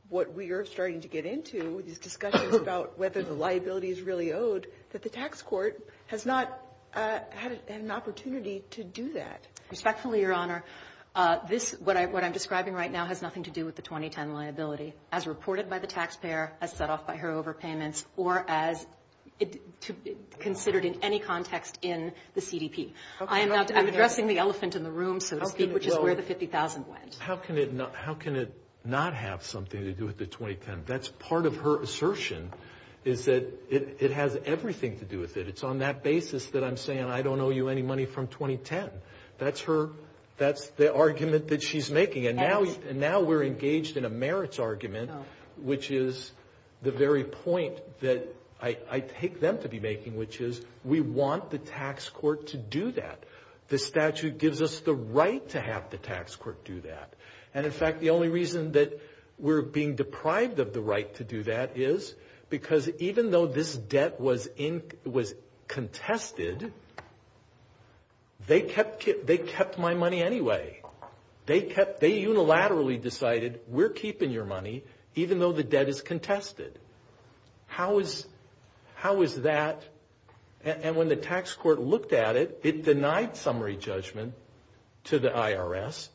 what we are starting to get into, this discussion about whether the liability is really owed, that the tax court has not had an opportunity to do that? Respectfully, Your Honor, what I'm describing right now has nothing to do with the 2010 liability, as reported by the taxpayer, as set off by her overpayments, or as considered in any context in the CDP. I'm addressing the elephant in the room, which is where the $50,000 went. How can it not have something to do with the 2010? That's part of her assertion, is that it has everything to do with it. It's on that basis that I'm saying I don't owe you any money from 2010. That's the argument that she's making. And now we're engaged in a merits argument, which is the very point that I take them to be making, which is we want the tax court to do that. The statute gives us the right to have the tax court do that. And, in fact, the only reason that we're being deprived of the right to do that is because even though this debt was contested, they kept my money anyway. They unilaterally decided we're keeping your money, even though the debt is contested. How is that? And when the tax court looked at it, it denied summary judgment to the IRS,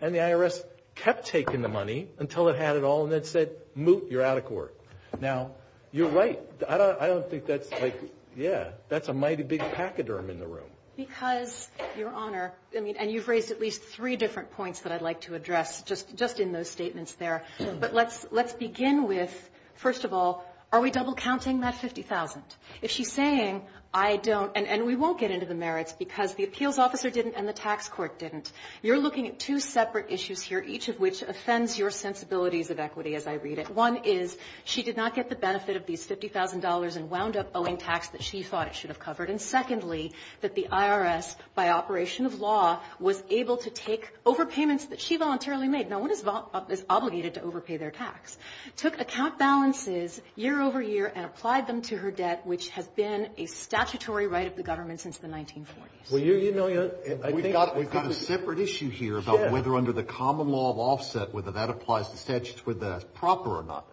and the IRS kept taking the money until it had it all, and it said, moot, you're out of court. Now, you're right. I don't think that's, like, yeah, that's a mighty big pachyderm in the room. Because, Your Honor, and you've raised at least three different points that I'd like to address, just in those statements there, but let's begin with, first of all, are we double counting that $50,000? If she's saying, I don't, and we won't get into the merits because the appeals officer didn't and the tax court didn't. You're looking at two separate issues here, each of which offends your sensibilities of equity, as I read it. One is she did not get the benefit of these $50,000 and wound up owing tax that she thought she should have covered. And secondly, that the IRS, by operation of law, was able to take overpayments that she voluntarily made. Now, one is obligated to overpay their tax. Took account balances year over year and applied them to her debt, which had been a statutory right of the government since the 1940s. We've got a separate issue here about whether under the common law of offset, whether that applies to the proper or not.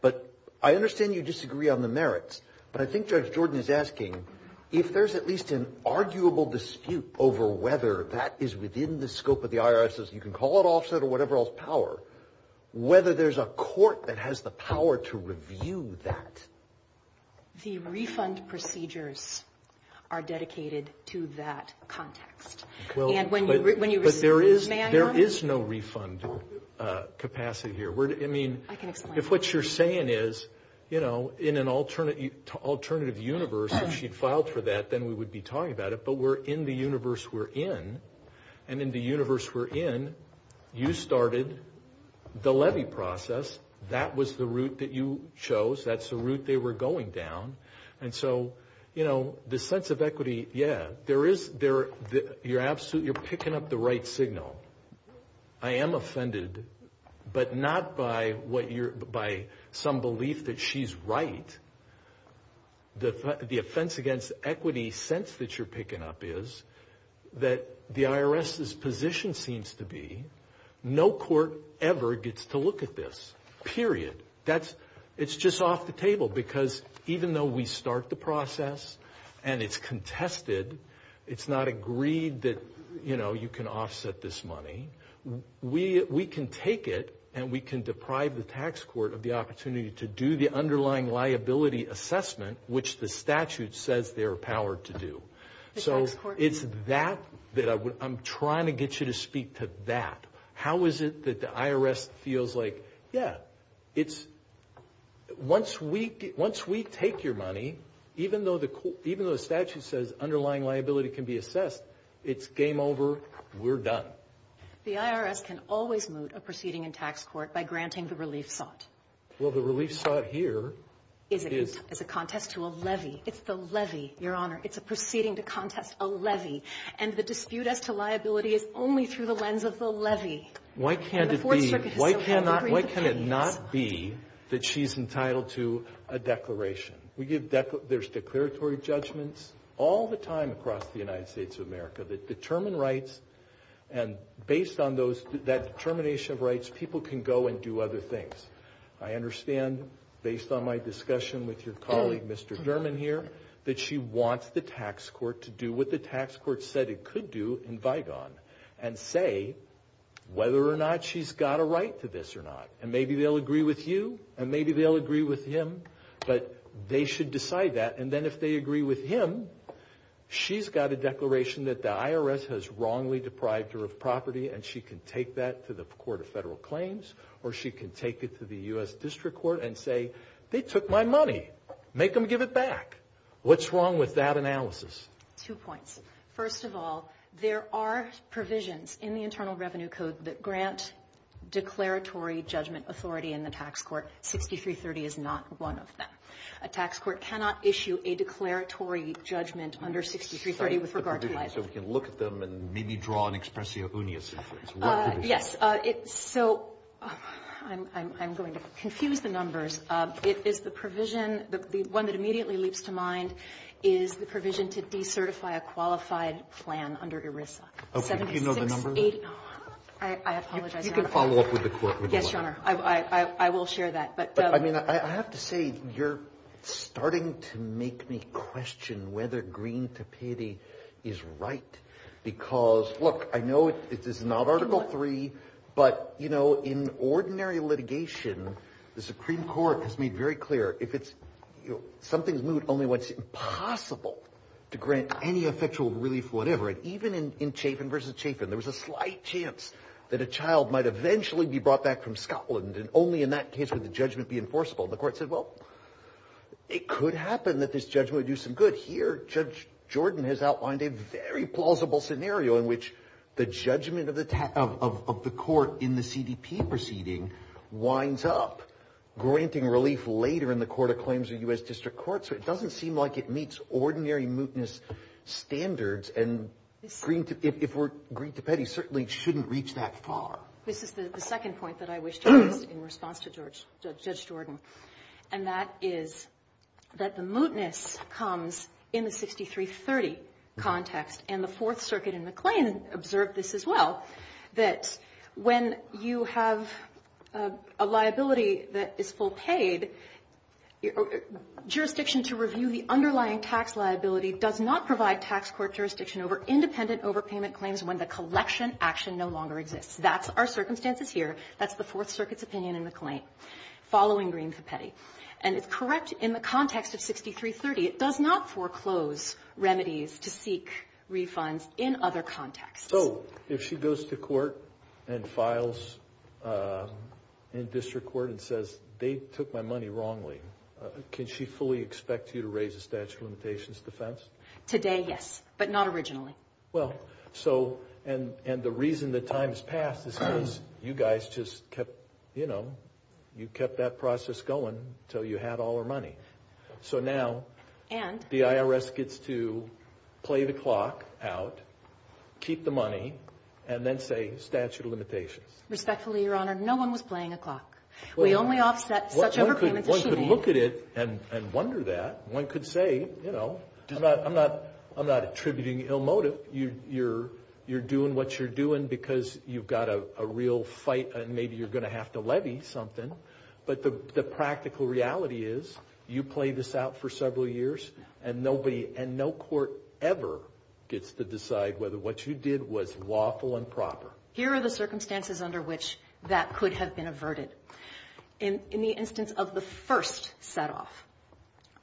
But I understand you disagree on the merits, but I think Judge Jordan is asking, if there's at least an arguable dispute over whether that is within the scope of the IRS's, you can call it offset or whatever else, power, whether there's a court that has the power to review that. The refund procedures are dedicated to that context. But there is no refund capacity here. I mean, if what you're saying is, you know, in an alternative universe, if she'd filed for that, then we would be talking about it. But we're in the universe we're in, and in the universe we're in, you started the levy process. That was the route that you chose. That's the route they were going down. And so, you know, the sense of equity, yeah, you're picking up the right signal. I am offended, but not by some belief that she's right. The offense against equity sense that you're picking up is that the IRS's position seems to be, no court ever gets to look at this, period. It's just off the table, because even though we start the process and it's contested, it's not agreed that, you know, you can offset this money, we can take it and we can deprive the tax court of the opportunity to do the underlying liability assessment, which the statute says they're empowered to do. So it's that that I'm trying to get you to speak to that. How is it that the IRS feels like, yeah, once we take your money, even though the statute says underlying liability can be assessed, it's game over, we're done. The IRS can always moot a proceeding in tax court by granting the relief thought. Well, the relief thought here is a contest to a levy. It's the levy, Your Honor. It's a proceeding to contest a levy. And the dispute as to liability is only through the lens of the levy. Why can't it be, why can it not be that she's entitled to a declaration? There's declaratory judgments all the time across the United States of America that determine rights, and based on that determination of rights, people can go and do other things. I understand, based on my discussion with your colleague, Mr. Derman, here, that she wants the tax court to do what the tax court said it could do in Vigon and say whether or not she's got a right to this or not. And maybe they'll agree with you, and maybe they'll agree with him, but they should decide that. And then if they agree with him, she's got a declaration that the IRS has wrongly deprived her of property, and she can take that to the Court of Federal Claims, or she can take it to the U.S. District Court and say, they took my money, make them give it back. What's wrong with that analysis? Two points. First of all, there are provisions in the Internal Revenue Code that grant declaratory judgment authority in the tax court. 6330 is not one of them. A tax court cannot issue a declaratory judgment under 6330 with regard to liability. So we can look at them and maybe draw an expressio unius inference. Yes. So I'm going to confuse the numbers. The one that immediately leaps to mind is the provision to decertify a qualified plan under ERISA. Do you know the numbers? I apologize. You can follow up with the court. Yes, Your Honor. I will share that. But I have to say, you're starting to make me question whether Green-Tapiti is right, because, look, I know this is not Article III, but, you know, in ordinary litigation, the Supreme Court has made very clear, if something's moot, only when it's impossible to grant any effectual relief, whatever. Even in Chafin v. Chafin, there was a slight chance that a child might eventually be brought back from Scotland, and only in that case would the judgment be enforceable. The court said, well, it could happen that this judgment would do some good. But here, Judge Jordan has outlined a very plausible scenario in which the judgment of the court in the CDP proceeding winds up, granting relief later in the Court of Claims of the U.S. District Court. So it doesn't seem like it meets ordinary mootness standards, and Green-Tapiti certainly shouldn't reach that far. This is the second point that I wish to make in response to Judge Jordan, and that is that the mootness comes in the 6330 context, and the Fourth Circuit in the claim observed this as well, that when you have a liability that is full paid, jurisdiction to review the underlying tax liability does not provide tax court jurisdiction over independent overpayment claims when the collection action no longer exists. That's our circumstances here. That's the Fourth Circuit's opinion in the claim, following Green-Tapiti. And it's correct in the context of 6330. It does not foreclose remedies to seek refunds in other contexts. So if she goes to court and files in district court and says, they took my money wrongly, can she fully expect you to raise a statute of limitations defense? Today, yes, but not originally. Well, so, and the reason that time has passed is because you guys just kept, you know, you kept that process going until you had all her money. So now the IRS gets to play the clock out, keep the money, and then say statute of limitations. Respectfully, Your Honor, no one was playing a clock. We only offset such overpayment proceedings. One could look at it and wonder that. One could say, you know, I'm not attributing ill motive. You're doing what you're doing because you've got a real fight, and maybe you're going to have to levy something. But the practical reality is you play this out for several years, and no court ever gets to decide whether what you did was lawful and proper. Here are the circumstances under which that could have been averted. In the instance of the first set off,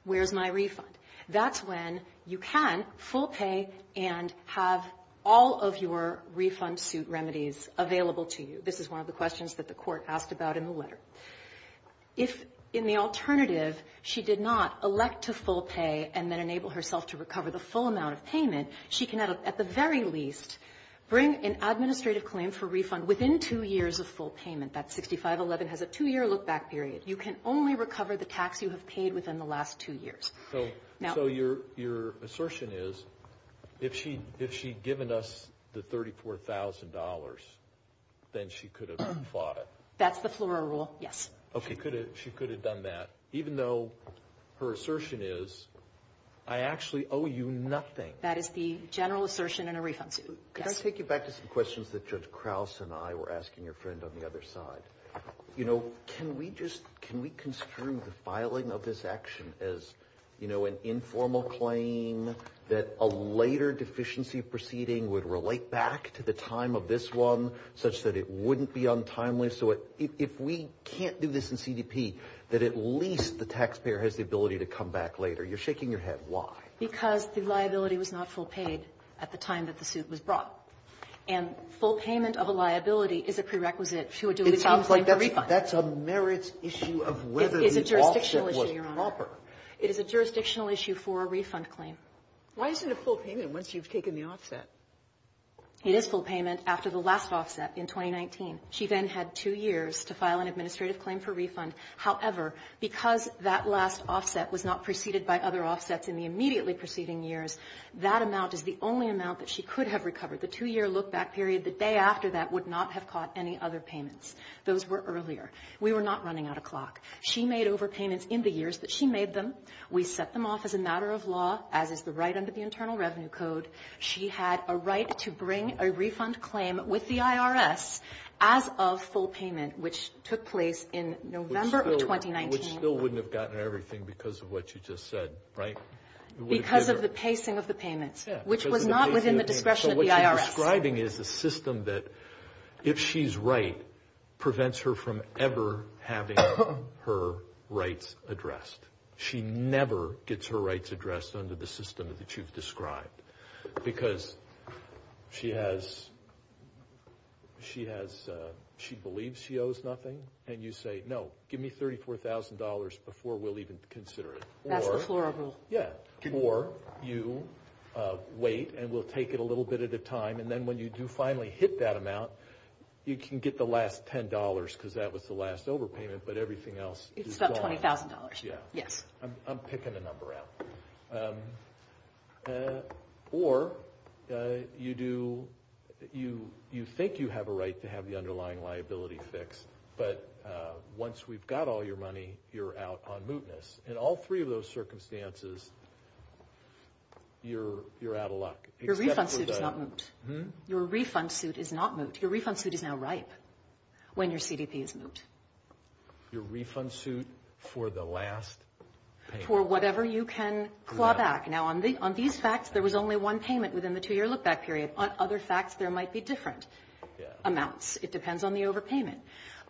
where's my refund? That's when you can full pay and have all of your refund suit remedies available to you. This is one of the questions that the court asked about in the letter. If, in the alternative, she did not elect to full pay and then enable herself to recover the full amount of payment, she can at the very least bring an administrative claim for refund within two years of full payment. That 6511 has a two-year look-back period. You can only recover the tax you have paid within the last two years. So your assertion is, if she'd given us the $34,000, then she could have fought it. That's the floral rule, yes. She could have done that, even though her assertion is, I actually owe you nothing. That is the general assertion in a refund suit. Can I take you back to some questions that Judge Krause and I were asking your friend on the other side? Can we construe the filing of this action as an informal claim that a later deficiency proceeding would relate back to the time of this one, such that it wouldn't be untimely? So if we can't do this in CDP, then at least the taxpayer has the ability to come back later. You're shaking your head. Why? Because the liability was not full paid at the time that the suit was brought. And full payment of a liability is a prerequisite to a duly filed claim for a refund. That's a merits issue of whether the offset was proper. It is a jurisdictional issue, Your Honor. It is a jurisdictional issue for a refund claim. Why isn't it a full payment once you've taken the offset? It is full payment after the last offset in 2019. She then had two years to file an administrative claim for refund. However, because that last offset was not preceded by other offsets in the immediately preceding years, that amount is the only amount that she could have recovered. The two-year look-back period the day after that would not have caught any other payments. Those were earlier. We were not running out of clock. She made overpayments in the years that she made them. We set them off as a matter of law, as is the right under the Internal Revenue Code. She had a right to bring a refund claim with the IRS as of full payment, which took place in November of 2019. Which still wouldn't have gotten everything because of what you just said, right? Because of the pacing of the payments, which was not within the discretion of the IRS. What you're describing is a system that, if she's right, prevents her from ever having her rights addressed. She never gets her rights addressed under the system that you've described because she believes she owes nothing. And you say, no, give me $34,000 before we'll even consider it. Or you wait and we'll take it a little bit at a time. And then when you do finally hit that amount, you can get the last $10 because that was the last overpayment, but everything else is gone. Except $20,000, yes. I'm picking a number out. Or you think you have a right to have the underlying liability fixed, but once we've got all your money, you're out on mootness. In all three of those circumstances, you're out of luck. Your refund suit is not moot. Your refund suit is not moot. Your refund suit is now ripe when your CDP is moot. Your refund suit for the last payment. For whatever you can claw back. Now, on these facts, there was only one payment within the two-year look-back period. On other facts, there might be different amounts. It depends on the overpayment.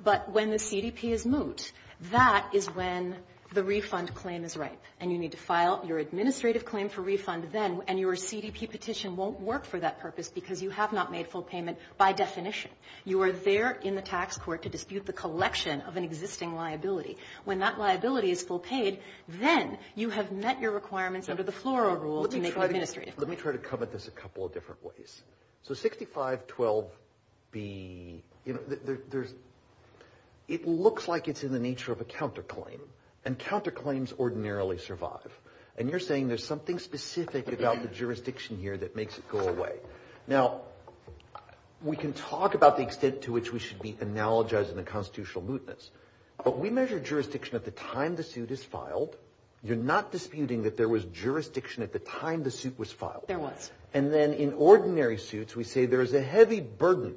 But when the CDP is moot, that is when the refund claim is ripe and you need to file your administrative claim for refund then, and your CDP petition won't work for that purpose because you have not made full payment by definition. You are there in the tax court to dispute the collection of an existing liability. When that liability is full paid, then you have met your requirements under the floral rule to make the administration. Let me try to come at this a couple of different ways. So 6512B, it looks like it's in the nature of a counterclaim, and counterclaims ordinarily survive. And you're saying there's something specific about the jurisdiction here that makes it go away. Now, we can talk about the extent to which we should be analogizing the constitutional mootness, but we measure jurisdiction at the time the suit is filed. You're not disputing that there was jurisdiction at the time the suit was filed. There was. And then in ordinary suits, we say there is a heavy burden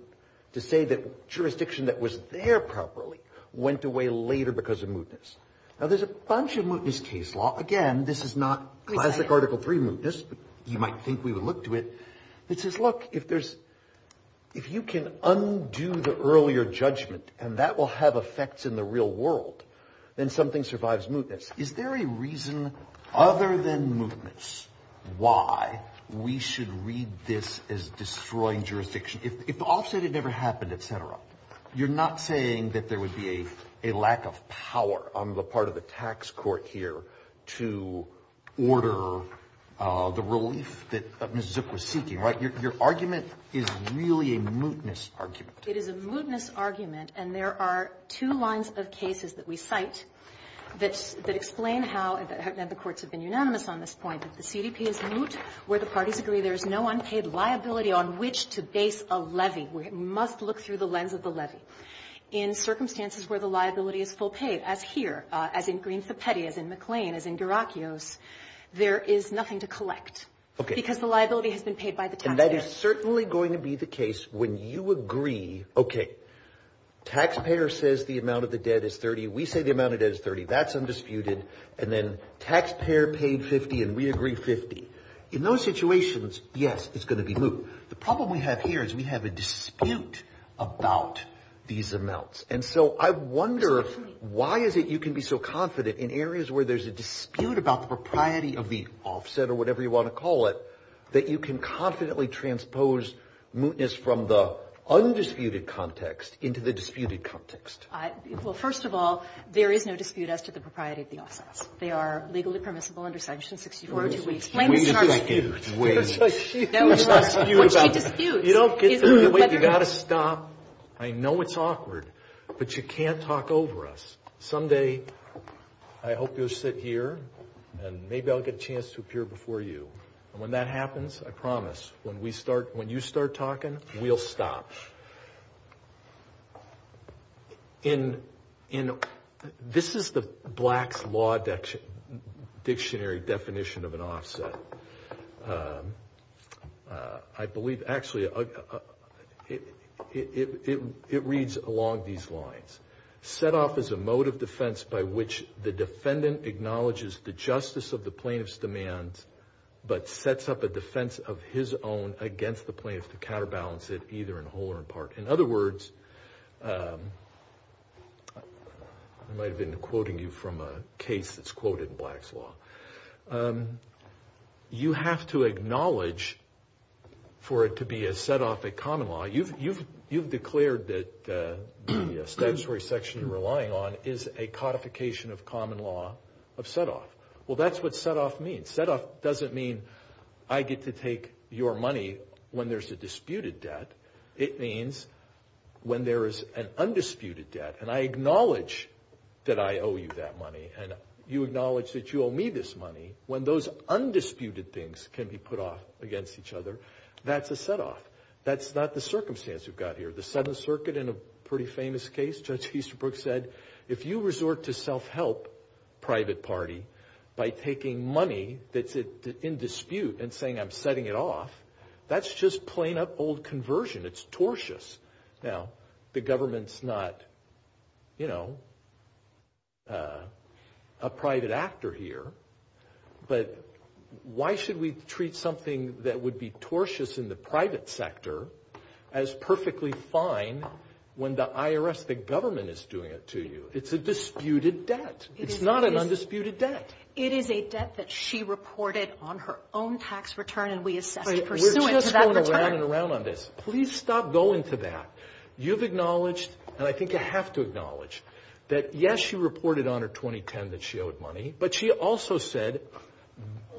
to say that jurisdiction that was there properly went away later because of mootness. Now, there's a bunch of mootness case law. Again, this is not classic Article III mootness. You might think we would look to it. It says, look, if you can undo the earlier judgment, and that will have effects in the real world, then something survives mootness. Is there a reason other than mootness why we should read this as destroying jurisdiction? If the officer said it never happened, et cetera, you're not saying that there would be a lack of power on the part of the tax court here to order the relief that Ms. Zook was seeking, right? Your argument is really a mootness argument. It is a mootness argument, and there are two lines of cases that we cite that explain how, and the courts have been unanimous on this point, that the CDP is moot where the parties agree there is no unpaid liability on which to base a levy. We must look through the lens of the levy. In circumstances where the liability is full paid, as here, as in Greensboro Petty, as in McLean, as in DeRocchio's, there is nothing to collect because the liability has been paid by the taxpayer. And that is certainly going to be the case when you agree, okay, taxpayer says the amount of the debt is $30. We say the amount of debt is $30. That's undisputed. And then taxpayer paid $50, and we agree $50. In those situations, yes, it's going to be moot. The problem we have here is we have a dispute about these amounts. And so I wonder why is it you can be so confident in areas where there's a dispute about propriety of the offset, or whatever you want to call it, that you can confidently transpose mootness from the undisputed context into the disputed context. Well, first of all, there is no dispute as to the propriety of the offset. They are legally permissible under section 64. I know it's awkward, but you can't talk over us. Someday I hope you'll sit here, and maybe I'll get a chance to appear before you. And when that happens, I promise, when you start talking, we'll stop. This is the Black Law Dictionary definition of an offset. I believe, actually, it reads along these lines. Set off as a mode of defense by which the defendant acknowledges the justice of the plaintiff's demand, but sets up a defense of his own against the plaintiff to counterbalance it, either in whole or in part. In other words, I might have been quoting you from a case that's quoted in Black's Law. You have to acknowledge for it to be a set off at common law. You've declared that the statutory section you're relying on is a codification of common law of set off. Well, that's what set off means. Set off doesn't mean I get to take your money when there's a disputed debt. It means when there is an undisputed debt, and I acknowledge that I owe you that money, and you acknowledge that you owe me this money, when those undisputed things can be put off against each other, that's a set off. That's not the circumstance we've got here. The Seventh Circuit in a pretty famous case, Judge Easterbrook said, if you resort to self-help, private party, by taking money that's in dispute and saying I'm setting it off, that's just plain old conversion. It's tortious. Now, the government's not, you know, a private actor here, but why should we treat something that would be tortious in the private sector as perfectly fine when the IRS, the government, is doing it to you? It's a disputed debt. It's not an undisputed debt. It is a debt that she reported on her own tax return, and we accept it. We're just going around and around on this. Please stop going to that. You've acknowledged, and I think you have to acknowledge, that, yes, she reported on her 2010 that she owed money, but she also said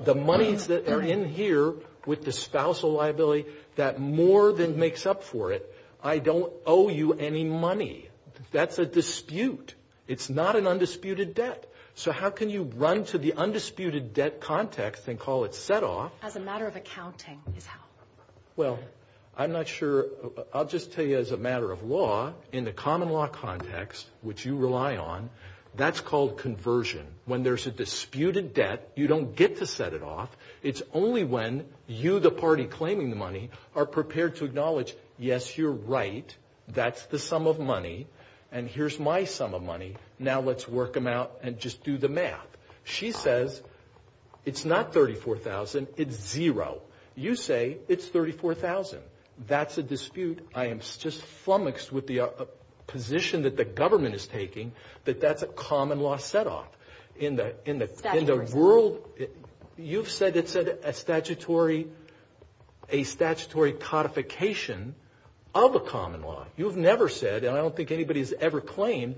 the money that are in here with the spousal liability, that more than makes up for it, I don't owe you any money. That's a dispute. It's not an undisputed debt. So how can you run to the undisputed debt context and call it set off? As a matter of accounting, is how. Well, I'm not sure. I'll just tell you as a matter of law, in the common law context, which you rely on, that's called conversion. When there's a disputed debt, you don't get to set it off. It's only when you, the party claiming the money, are prepared to acknowledge, yes, you're right, that's the sum of money, and here's my sum of money, now let's work them out and just do the math. She says it's not $34,000, it's zero. You say it's $34,000. That's a dispute. I am just flummoxed with the position that the government is taking that that's a common law set off. In the world, you've said it's a statutory codification of a common law. You've never said, and I don't think anybody's ever claimed,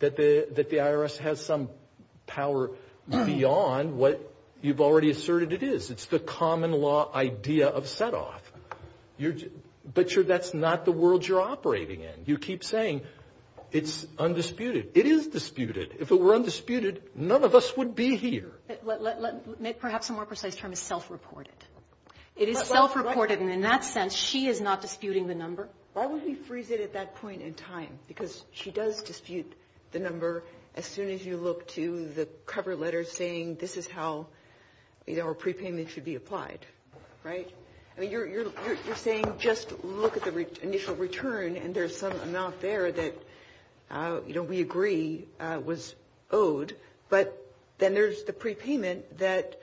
that the IRS has some power beyond what you've already asserted it is. It's the common law idea of set off. But that's not the world you're operating in. You keep saying it's undisputed. It is disputed. If it were undisputed, none of us would be here. Let's make perhaps a more precise term, self-reported. It is self-reported, and in that sense, she is not disputing the number. Why would he freeze it at that point in time? Because she does dispute the number as soon as you look to the cover letter saying this is how a prepayment should be applied, right? You're saying just look at the initial return, and there's some amount there that we agree was owed, but then there's the prepayment that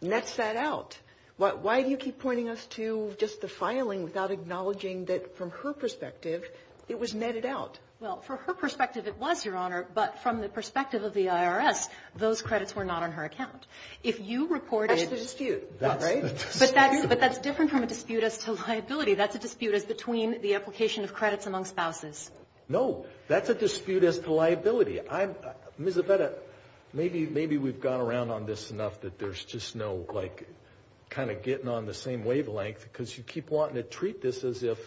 nets that out. Why do you keep pointing us to just the filing without acknowledging that, from her perspective, it was netted out? Well, from her perspective, it was, Your Honor, but from the perspective of the IRS, those credits were not on her account. That's a dispute, right? But that's different from a dispute as to liability. That's a dispute as between the application of credits among spouses. No, that's a dispute as to liability. Ms. Aveda, maybe we've gone around on this enough that there's just no kind of getting on the same wavelength because you keep wanting to treat this as if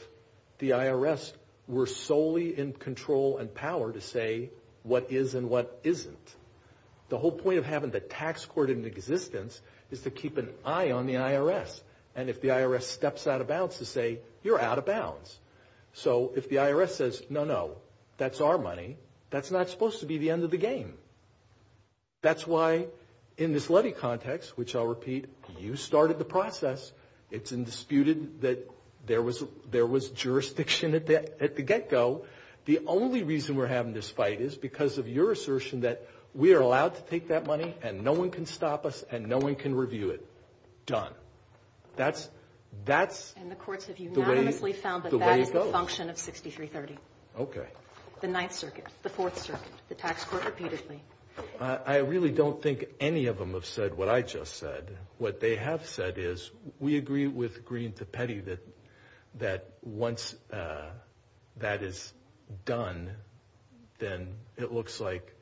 the IRS were solely in control and power to say what is and what isn't. The whole point of having the tax court in existence is to keep an eye on the IRS, and if the IRS steps out of bounds to say you're out of bounds. So if the IRS says no, no, that's our money, that's not supposed to be the end of the game. That's why in this levy context, which I'll repeat, you started the process. It's indisputed that there was jurisdiction at the get-go. The only reason we're having this fight is because of your assertion that we are allowed to take that money and no one can stop us and no one can review it. Done. That's the way it goes. And the courts have unanimously found that that is a function of 6330. Okay. The Ninth Circuit, the Fourth Circuit, the tax court repeatedly. I really don't think any of them have said what I just said. What they have said is we agree with Greene to Petty that once that is done, then it looks like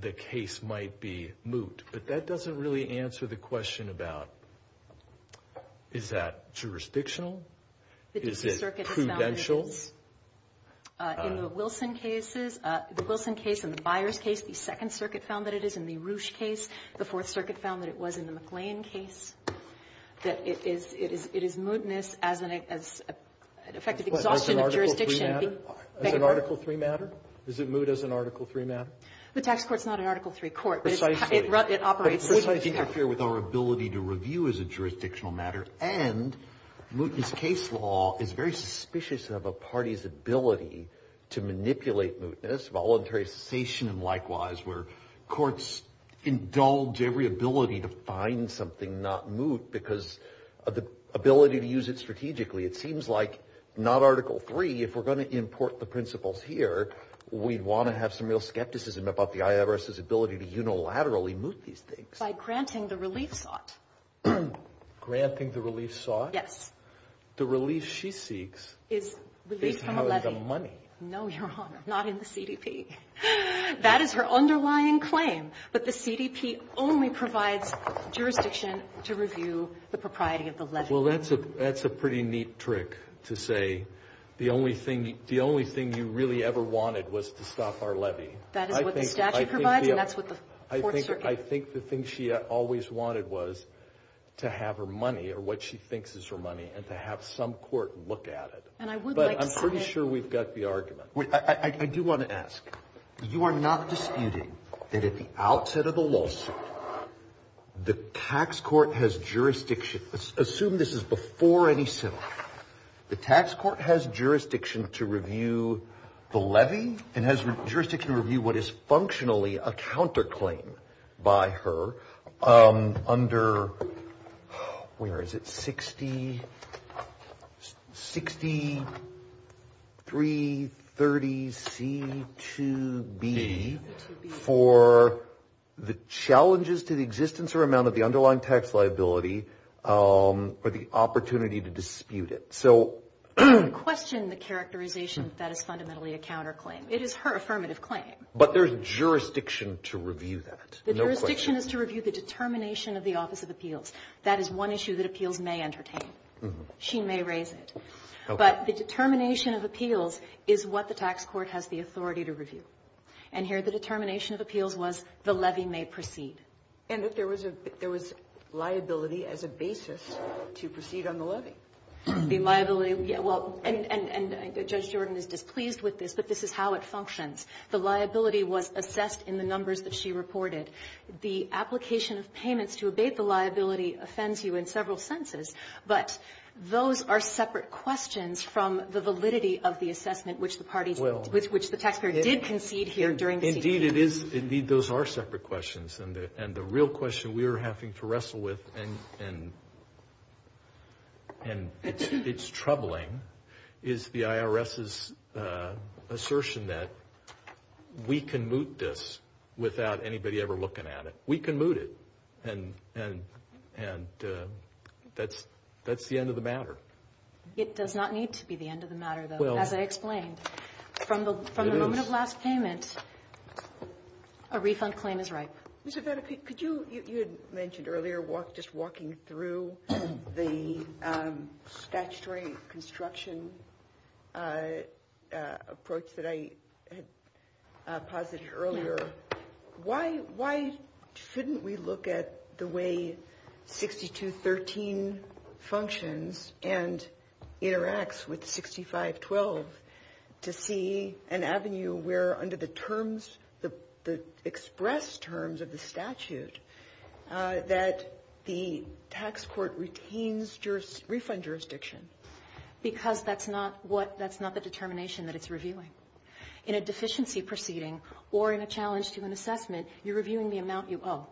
the case might be moot. But that doesn't really answer the question about is that jurisdictional? Is it prudential? In the Wilson case and the Byers case, the Second Circuit found that it is. In the Roush case, the Fourth Circuit found that it was. In the McLean case, it is mootness as an effective exhaustion of jurisdiction. As an Article III matter? Is it moot as an Article III matter? The tax court is not an Article III court. But it's mootness. But it's mootness to interfere with our ability to review as a jurisdictional matter. And mootness case law is very suspicious of a party's ability to manipulate mootness, voluntarization, and likewise, where courts indulge every ability to find something, not moot, because of the ability to use it strategically. It seems like, not Article III, if we're going to import the principles here, we want to have some real skepticism about the IRS's ability to unilaterally moot these things. By granting the relief sought. Granting the relief sought? Yes. The relief she seeks is how is the money. No, Your Honor. Not in the CDP. That is her underlying claim. But the CDP only provides jurisdiction to review the propriety of the levy. Well, that's a pretty neat trick to say the only thing you really ever wanted was to stop our levy. That is what the statute provides, and that's what the court's certain. I think the thing she always wanted was to have her money, or what she thinks is her money, and to have some court look at it. But I'm pretty sure we've got the argument. I do want to ask. You are not disputing that at the outset of the lawsuit, the tax court has jurisdiction. Assume this is before any settlement. The tax court has jurisdiction to review the levy, and has jurisdiction to review what is functionally a counterclaim by her. Under, where is it, 6330C2B, for the challenges to the existence or amount of the underlying tax liability, or the opportunity to dispute it. Question the characterization that it's fundamentally a counterclaim. It is her affirmative claim. But there's jurisdiction to review that. The jurisdiction is to review the determination of the Office of Appeals. That is one issue that Appeals may entertain. She may raise it. But the determination of Appeals is what the tax court has the authority to review. And here the determination of Appeals was the levy may proceed. And if there was liability as a basis to proceed on the levy. The liability, and Judge Jordan is displeased with this, but this is how it functions. The liability was assessed in the numbers that she reported. The application of payments to abate the liability offends you in several senses. But those are separate questions from the validity of the assessment which the tax court did concede here during the hearing. Indeed, those are separate questions. And the real question we are having to wrestle with, and it's troubling, is the IRS's assertion that we can moot this without anybody ever looking at it. We can moot it. And that's the end of the matter. It does not need to be the end of the matter, though, as I explained. From the moment of last payment, a refund claim is right. You had mentioned earlier just walking through the statutory construction approach that I had posited earlier. Why shouldn't we look at the way 6213 functions and interacts with 6512 to see an avenue where under the express terms of the statute that the tax court retains refund jurisdiction? Because that's not the determination that it's reviewing. In a deficiency proceeding or in a challenge to an assessment, you're reviewing the amount you owe.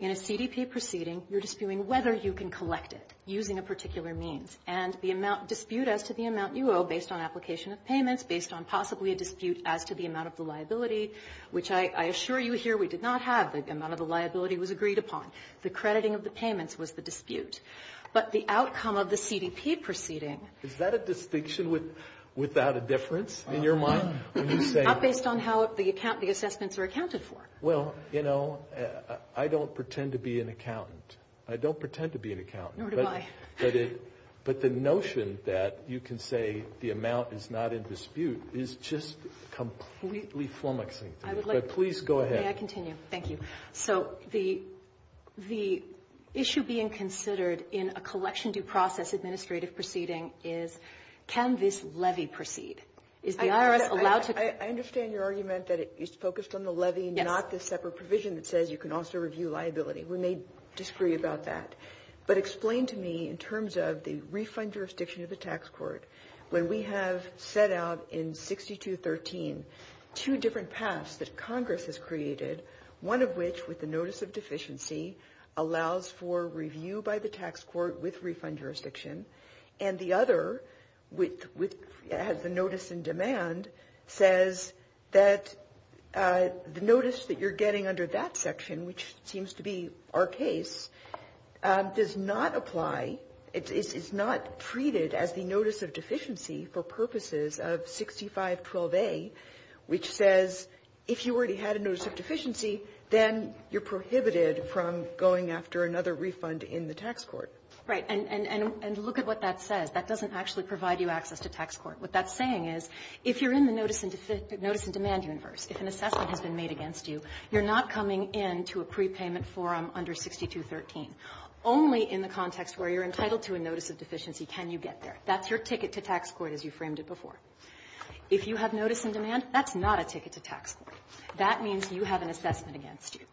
In a CDP proceeding, you're disputing whether you can collect it using a particular means. And the dispute as to the amount you owe based on application of payments, based on possibly a dispute as to the amount of the liability, which I assure you here we did not have. The amount of the liability was agreed upon. But the outcome of the CDP proceeding… Is that a distinction without a difference in your mind? Based on how the assessments were accounted for. Well, you know, I don't pretend to be an accountant. I don't pretend to be an accountant. Nor do I. But the notion that you can say the amount is not in dispute is just completely flummoxing to me. But please go ahead. May I continue? Thank you. So the issue being considered in a collection due process administrative proceeding is can this levy proceed? I understand your argument that it's focused on the levy, not the separate provision that says you can also review liability. We may disagree about that. But explain to me, in terms of the refund jurisdiction of the tax court, when we have set out in 6213 two different paths that Congress has created, one of which, with the notice of deficiency, allows for review by the tax court with refund jurisdiction, and the other, which has the notice in demand, says that the notice that you're getting under that section, which seems to be our case, does not apply. It's not treated as the notice of deficiency for purposes of 6512A, which says if you already had a notice of deficiency, then you're prohibited from going after another refund in the tax court. Right. And look at what that says. That doesn't actually provide you access to tax court. What that's saying is if you're in the notice of demand universe, if an assessment has been made against you, you're not coming into a prepayment forum under 6213. Only in the context where you're entitled to a notice of deficiency can you get there. That's your ticket to tax court, as you framed it before. If you have notice in demand, that's not a ticket to tax court. That means you have an assessment against you.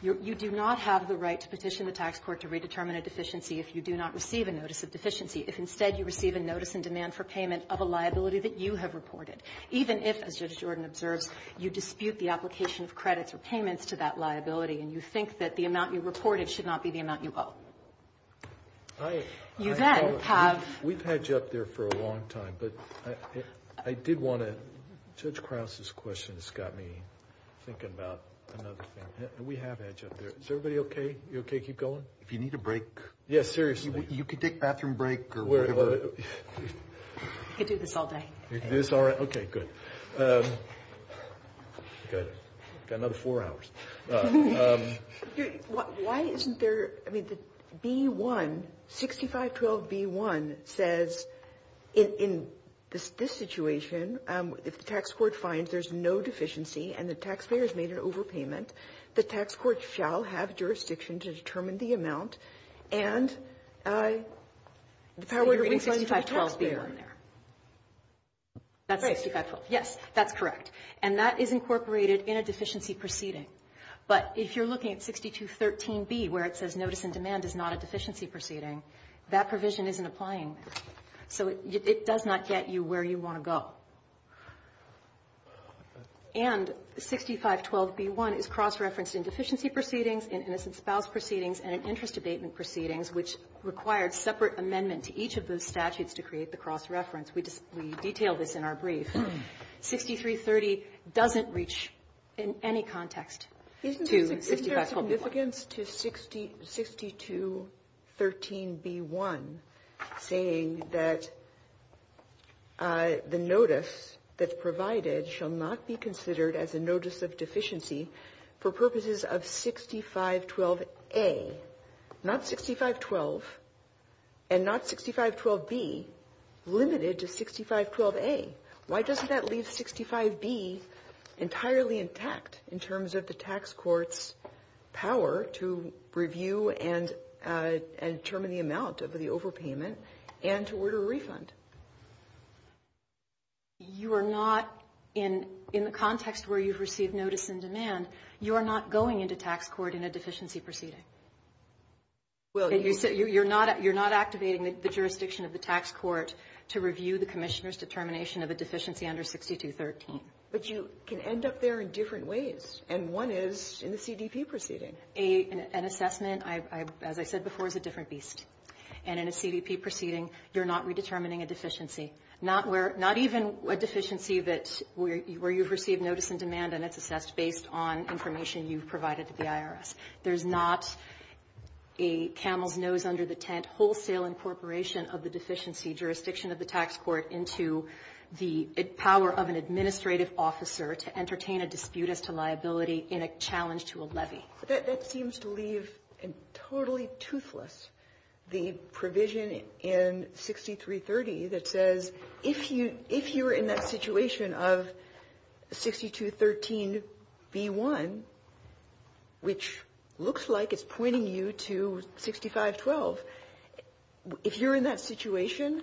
You do not have the right to petition the tax court to redetermine a deficiency if you do not receive a notice of deficiency. If, instead, you receive a notice in demand for payment of a liability that you have reported, even if, as Judge Jordan observed, you dispute the application for credit for payments to that liability and you think that the amount you reported should not be the amount you owe. You then have – We've had you up there for a long time, but I did want to – Is everybody okay? You okay to keep going? If you need a break. Yeah, seriously. You could take a bathroom break. I could do this all day. You can do this all day? Okay, good. Got another four hours. Why isn't there – I mean, the B-1, 6512B-1 says in this situation, if the tax court finds there's no deficiency and the taxpayer has made an overpayment, the tax court shall have jurisdiction to determine the amount and I – You're reading 6512B-1 there. That's 6512B-1. Yes, that's correct. And that is incorporated in a deficiency proceeding. But if you're looking at 6213B, where it says notice in demand is not a deficiency proceeding, that provision isn't applying. So it does not get you where you want to go. And 6512B-1 is cross-referenced in deficiency proceedings, in innocent spouse proceedings, and in interest abatement proceedings, which required separate amendment to each of those statutes to create the cross-reference. We detailed this in our brief. 6330 doesn't reach in any context to 6512B-1. It all begins to 6213B-1 saying that the notice that's provided shall not be considered as a notice of deficiency for purposes of 6512A, not 6512, and not 6512B, limited to 6512A. Why doesn't that leave 65B entirely intact in terms of the tax court's power to review and determine the amount of the overpayment and to order a refund? You are not, in the context where you've received notice in demand, you are not going into tax court in a deficiency proceeding. You're not activating the jurisdiction of the tax court to review the commissioner's determination of a deficiency under 6213. But you can end up there in different ways, and one is in a CDP proceeding. An assessment, as I said before, is a different beast. And in a CDP proceeding, you're not redetermining a deficiency, not even a deficiency where you've received notice in demand and it's assessed based on information you've provided to the IRS. There's not a camel's nose under the tent wholesale incorporation of the deficiency jurisdiction of the tax court into the power of an administrative officer to entertain a dispute as to liability in a challenge to a levy. That seems to leave totally toothless the provision in 6330 that says, if you're in that situation of 6213B1, which looks like it's pointing you to 6512, if you're in that situation,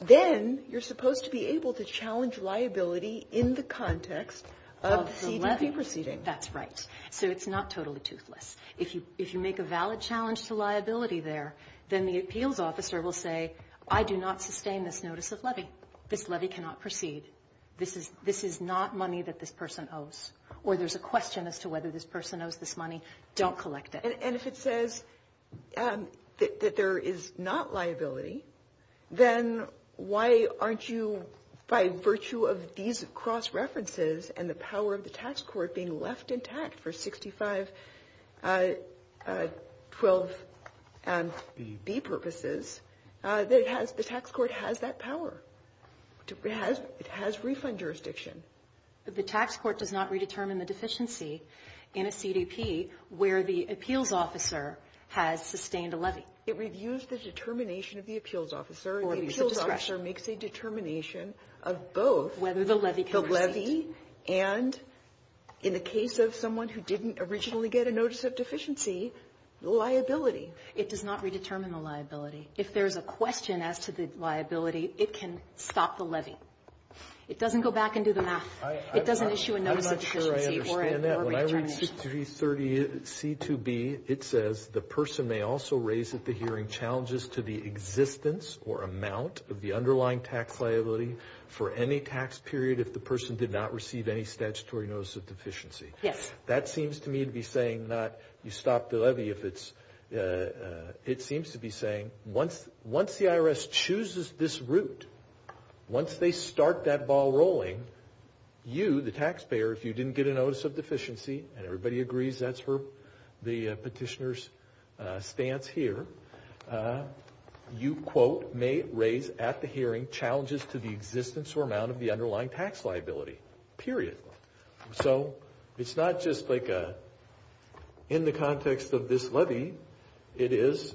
then you're supposed to be able to challenge liability in the context of CDP proceeding. That's right. So it's not totally toothless. If you make a valid challenge to liability there, then the appeals officer will say, I do not sustain this notice of levy. This levy cannot proceed. This is not money that this person owes. Or there's a question as to whether this person owes this money. Don't collect it. And if it says that there is not liability, then why aren't you, by virtue of these cross-references and the power of the tax court being left intact for 6512B purposes, the tax court has that power. It has refund jurisdiction. The tax court does not redetermine the deficiency in a CDP where the appeals officer has sustained a levy. It reviews the determination of the appeals officer. Or appeals discretion. The appeals officer makes a determination of both. Whether the levy can proceed. The levy and, in the case of someone who didn't originally get a notice of deficiency, liability. It does not redetermine the liability. It doesn't go back into the math. I'm not sure I understand that. When I read 6330C2B, it says, the person may also raise at the hearing challenges to the existence or amount of the underlying tax liability for any tax period if the person did not receive any statutory notice of deficiency. Yes. That seems to me to be saying not, you stop the levy if it's, it seems to be saying, once the IRS chooses this route, once they start that ball rolling, you, the taxpayer, if you didn't get a notice of deficiency, and everybody agrees that's for the petitioner's stance here, you, quote, may raise at the hearing challenges to the existence or amount of the underlying tax liability. Period. So, it's not just like a, in the context of this levy, it is,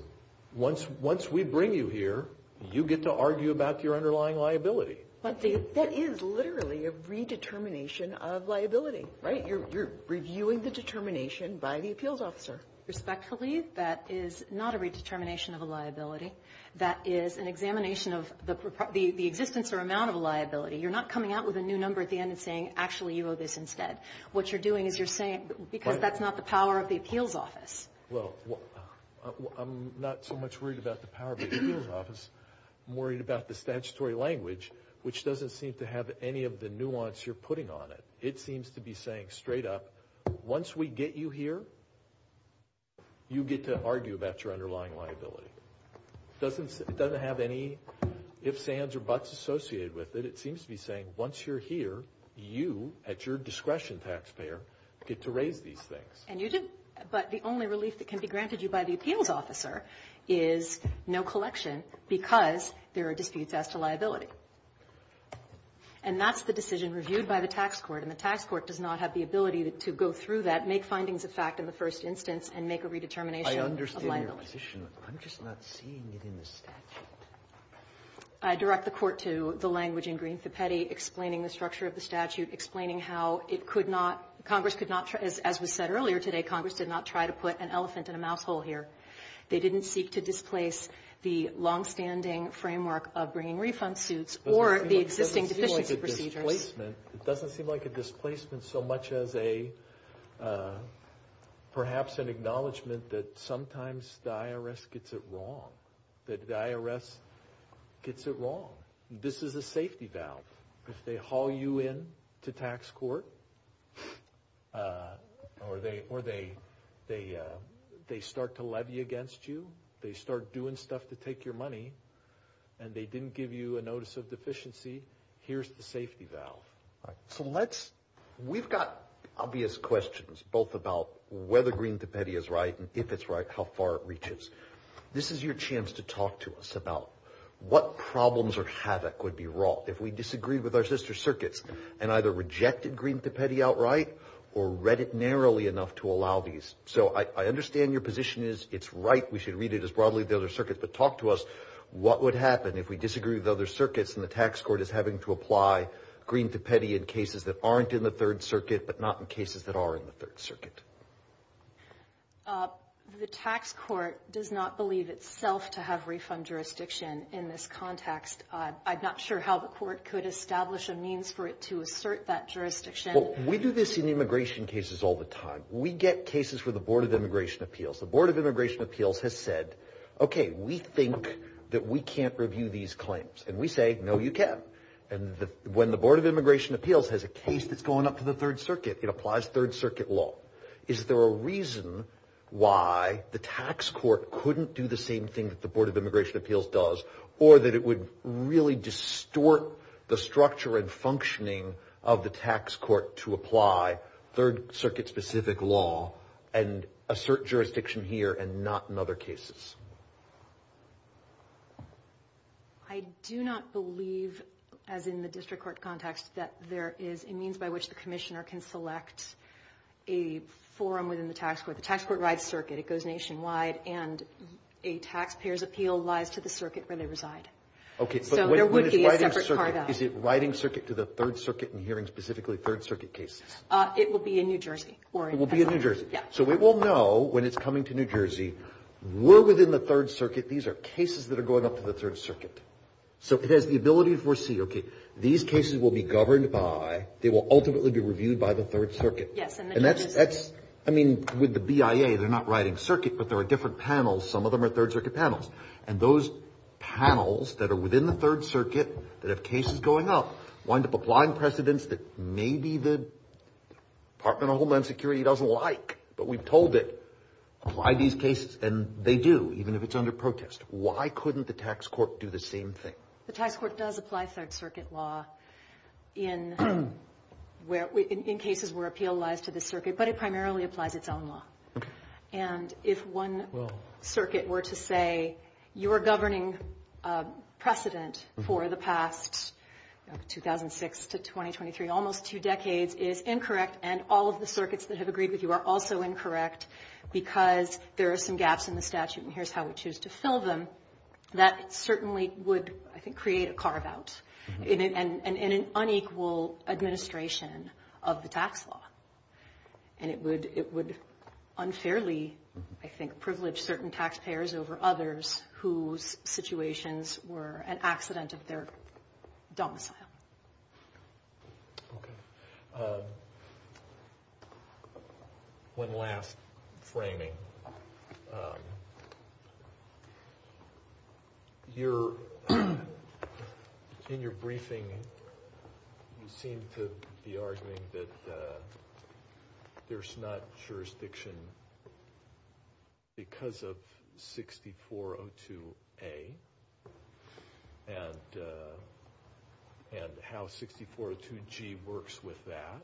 once we bring you here, you get to argue about your underlying liability. But that is literally a redetermination of liability, right? You're reviewing the determination by the appeals officer. Respectfully, that is not a redetermination of a liability. That is an examination of the existence or amount of a liability. You're not coming out with a new number at the end and saying, actually, you owe this instead. What you're doing is you're saying, because that's not the power of the appeals office. Well, I'm not so much worried about the power of the appeals office. I'm worried about the statutory language, which doesn't seem to have any of the nuance you're putting on it. It seems to be saying straight up, once we get you here, you get to argue about your underlying liability. It doesn't have any ifs, ands, or buts associated with it. It seems to be saying, once you're here, you, at your discretion, taxpayer, get to raise these things. But the only relief that can be granted you by the appeals officer is no collection because there are defeats as to liability. And that's the decision reviewed by the tax court. And the tax court does not have the ability to go through that, make findings of fact in the first instance, and make a redetermination of liability. I understand your position, but I'm just not seeing it in the statute. I direct the court to the language in Greene-Zapetti, explaining the structure of the statute, explaining how Congress could not, as we said earlier today, Congress did not try to put an elephant in a mouse hole here. They didn't seek to displace the long-standing framework of bringing refund suits or the existing decision-making procedures. It doesn't seem like a displacement so much as perhaps an acknowledgment that sometimes the IRS gets it wrong, that the IRS gets it wrong. This is a safety valve. If they haul you in to tax court or they start to levy against you, they start doing stuff to take your money, and they didn't give you a notice of deficiency, here's the safety valve. We've got obvious questions, both about whether Greene-Zapetti is right and if it's right, how far it reaches. This is your chance to talk to us about what problems or havoc would be wrought if we disagreed with our sister circuits and either rejected Greene-Zapetti outright or read it narrowly enough to allow these. So I understand your position is it's right, we should read it as broadly as the other circuits, but talk to us what would happen if we disagreed with other circuits and the tax court is having to apply Greene-Zapetti in cases that aren't in the Third Circuit but not in cases that are in the Third Circuit. The tax court does not believe itself to have refund jurisdiction in this context. I'm not sure how the court could establish a means for it to assert that jurisdiction. We do this in immigration cases all the time. We get cases for the Board of Immigration Appeals. The Board of Immigration Appeals has said, okay, we think that we can't review these claims. And we say, no you can't. And when the Board of Immigration Appeals has a case that's going up to the Third Circuit, it applies Third Circuit law. Is there a reason why the tax court couldn't do the same thing that the Board of Immigration Appeals does or that it would really distort the structure and functioning of the tax court to apply Third Circuit specific law and assert jurisdiction here and not in other cases? I do not believe, as in the district court context, that there is a means by which the commissioner can select a forum within the tax court. The tax court rides circuit. It goes nationwide. And a taxpayer's appeal lies to the circuit where they reside. Okay, but when it's riding circuit, is it riding circuit to the Third Circuit and hearing specifically Third Circuit cases? It will be in New Jersey. It will be in New Jersey. Yes. So we will know when it's coming to New Jersey. We're within the Third Circuit. These are cases that are going up to the Third Circuit. So it has the ability to foresee. These cases will be governed by, they will ultimately be reviewed by the Third Circuit. Yes. And that's, I mean, with the BIA, they're not riding circuit, but there are different panels. Some of them are Third Circuit panels. And those panels that are within the Third Circuit that have cases going up wind up applying precedents that maybe the Department of Homeland Security doesn't like. But we've told it, apply these cases. And they do, even if it's under protest. Why couldn't the tax court do the same thing? The tax court does apply Third Circuit law in cases where appeal lies to the circuit. But it primarily applies its own law. And if one circuit were to say, your governing precedent for the past 2006 to 2023, almost two decades, is incorrect, and all of the circuits that have agreed with you are also incorrect because there are some gaps in the statute, and here's how we choose to fill them, that certainly would, I think, create a carve-out and an unequal administration of the tax law. And it would unfairly, I think, privilege certain taxpayers over others whose situations were an accident of their domicile. One last framing. In your briefing, you seem to be arguing that there's not jurisdiction because of 6402A and how 6402G works with that.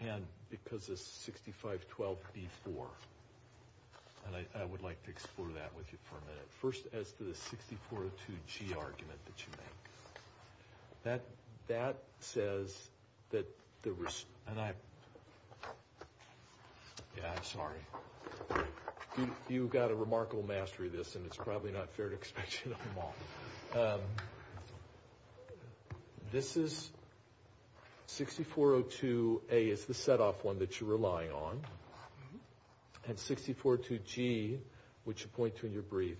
And because of 6512B4. And I would like to explore that with you for a minute. First, as to the 6402G argument that you made. That says that there was, and I, yeah, I'm sorry. You've got a remarkable mastery of this, and it's probably not fair to expect you to know them all. This is 6402A. It's the set-off one that you're relying on. And 6402G, which you point to in your brief,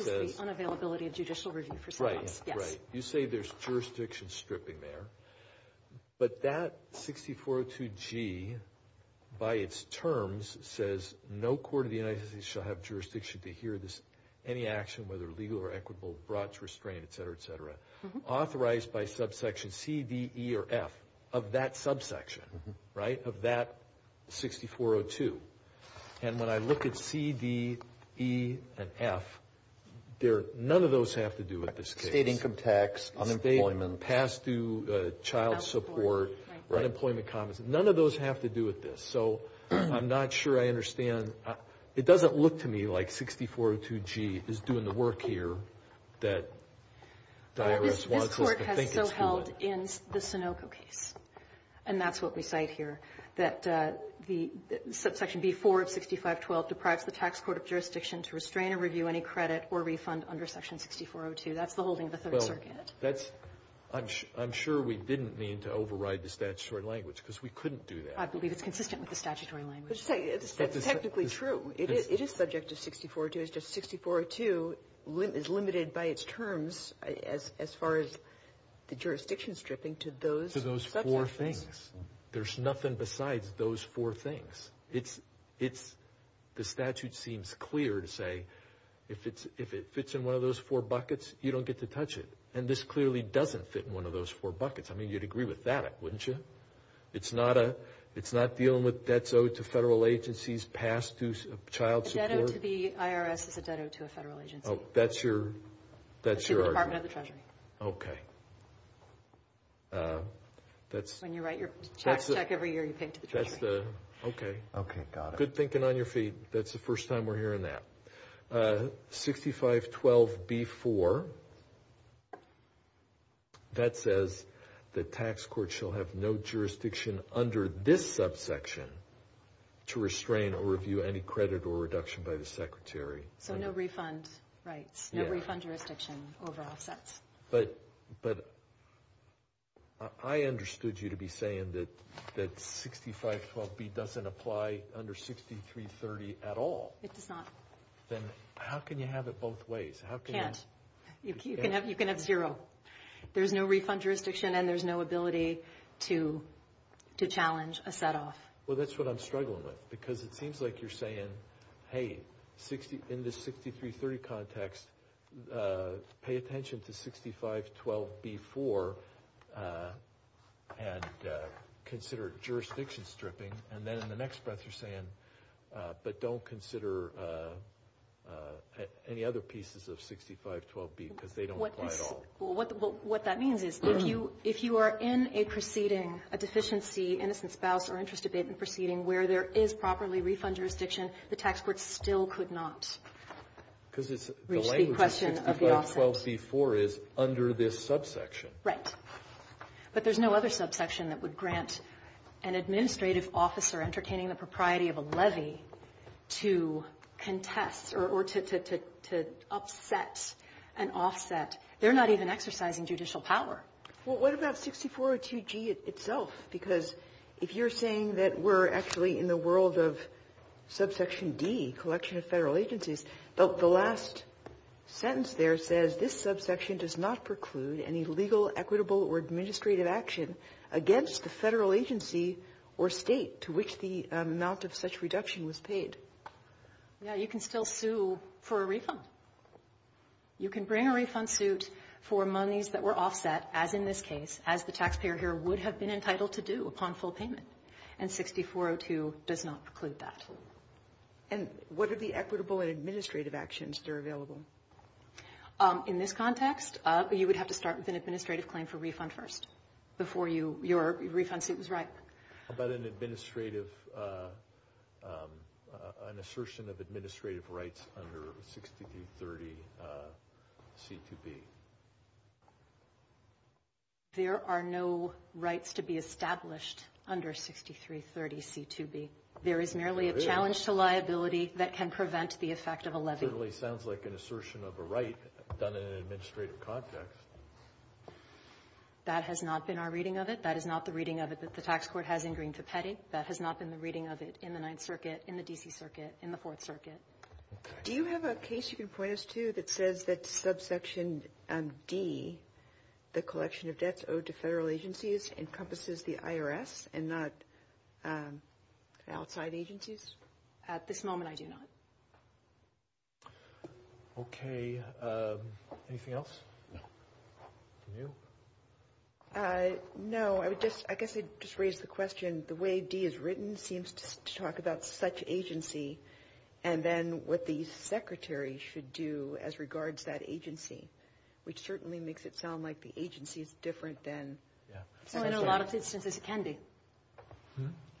says. Unavailability of judicial review. Right, right. You say there's jurisdiction stripping there. But that 6402G, by its terms, says, no court of the United States shall have jurisdiction to adhere to any action, whether legal or equitable, brought to restraint, et cetera, et cetera. Authorized by subsection C, D, E, or F of that subsection, right, of that 6402. And when I look at C, D, E, and F, none of those have to do with this case. Paid income tax. Unemployment. Pass-through child support. Unemployment compensation. None of those have to do with this. So I'm not sure I understand. It doesn't look to me like 6402G is doing the work here that the IRS wants us to think it's doing. This Court has so held in the Sunoco case, and that's what we cite here, that the subsection B-4 of 6512 deprives the tax court of jurisdiction to restrain or review any credit or refund under section 6402. That's the holding of the Third Circuit. I'm sure we didn't mean to override the statutory language because we couldn't do that. I believe it's consistent with the statutory language. It's technically true. It is subject to 6402. It's just 6402 is limited by its terms as far as the jurisdiction stripping to those four things. There's nothing besides those four things. The statute seems clear to say if it fits in one of those four buckets, you don't get to touch it. And this clearly doesn't fit in one of those four buckets. I mean, you'd agree with that, wouldn't you? It's not dealing with debts owed to federal agencies passed through child support? A debt owed to the IRS is a debt owed to a federal agency. That's your argument. To the Department of the Treasury. Okay. When you write your tax check every year, you pay it to the Treasury. Okay. Okay, got it. Good thinking on your feet. That's the first time we're hearing that. 6512B-4, that says the tax court shall have no jurisdiction under this subsection to restrain or review any credit or reduction by the secretary. So no refund. Right. No refund jurisdiction over assets. But I understood you to be saying that 6512B doesn't apply under 6330 at all. It does not. Then how can you have it both ways? You can't. You can have zero. There's no refund jurisdiction and there's no ability to challenge a set-off. Well, that's what I'm struggling with because it seems like you're saying, hey, in the 6330 context, pay attention to 6512B-4 and consider jurisdiction stripping. And then in the next breath you're saying, but don't consider any other pieces of 6512B because they don't apply at all. Well, what that means is if you are in a proceeding, a deficiency, innocent spouse or interest abatement proceeding where there is properly refund jurisdiction, the tax court still could not reach the question of the offset. Because the language of 6512B-4 is under this subsection. Right. But there's no other subsection that would grant an administrative officer entertaining the propriety of a levy to contest or to upset an offset. They're not even exercising judicial power. Well, what about 6402G itself? Because if you're saying that we're actually in the world of subsection D, collection of federal agencies, the last sentence there says, this subsection does not preclude any legal, equitable, or administrative action against the federal agency or state to which the amount of such reduction was paid. Yeah, you can still sue for a refund. You can bring a refund suit for monies that were offset, as in this case, as the taxpayer here would have been entitled to do upon full payment. And 6402 does not preclude that. And what would be equitable and administrative actions that are available? In this context, you would have to start with an administrative claim for refund first before your refund suit was right. How about an assertion of administrative rights under 6330C2B? There are no rights to be established under 6330C2B. There is merely a challenge to liability that can prevent the effect of a levy. It sounds like an assertion of a right done in an administrative context. That has not been our reading of it. That is not the reading of it that the tax court has in Green-Copetti. That has not been the reading of it in the Ninth Circuit, in the D.C. Circuit, in the Fourth Circuit. Do you have a case you can point us to that says that subsection D, the collection of debts owed to federal agencies, encompasses the IRS and not outside agencies? At this moment, I do not. Okay. Anything else? Camille? No. I guess I would just raise the question. The way D is written seems to talk about such agency and then what the Secretary should do as regards that agency, which certainly makes it sound like the agency is different than – In a lot of instances, it can be.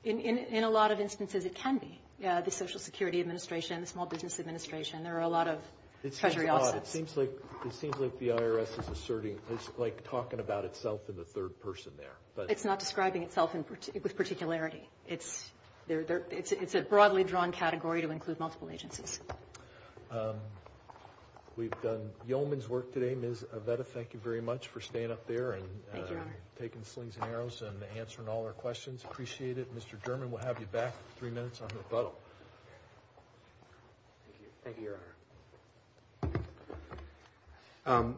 In a lot of instances, it can be. The Social Security Administration, the Small Business Administration, there are a lot of treasury offices. It seems like the IRS is asserting – it's like talking about itself in the third person there. It's not describing itself with particularity. It's a broadly drawn category to include multiple agencies. We've done Yeoman's work today. Ms. Aveda, thank you very much for staying up there and taking the slings and arrows and answering all our questions. Appreciate it. Mr. German, we'll have you back in three minutes on rebuttal. Thank you, Your Honor.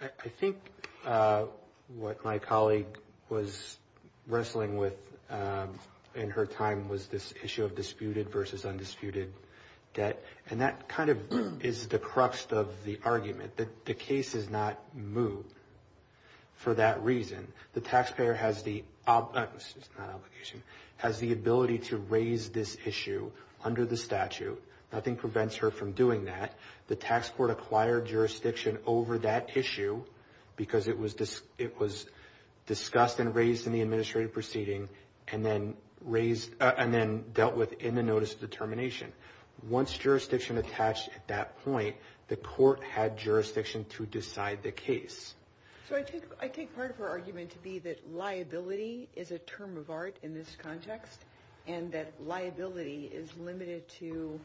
I think what my colleague was wrestling with in her time was this issue of disputed versus undisputed debt, and that kind of is the crux of the argument. The case is not moved for that reason. The taxpayer has the – not obligation – has the ability to raise this issue under the statute. Nothing prevents her from doing that. The tax court acquired jurisdiction over that issue because it was discussed and raised in the administrative proceeding and then dealt with in the notice of determination. Once jurisdiction attached at that point, the court had jurisdiction to decide the case. So I take part of her argument to be that liability is a term of art in this context and that liability is limited to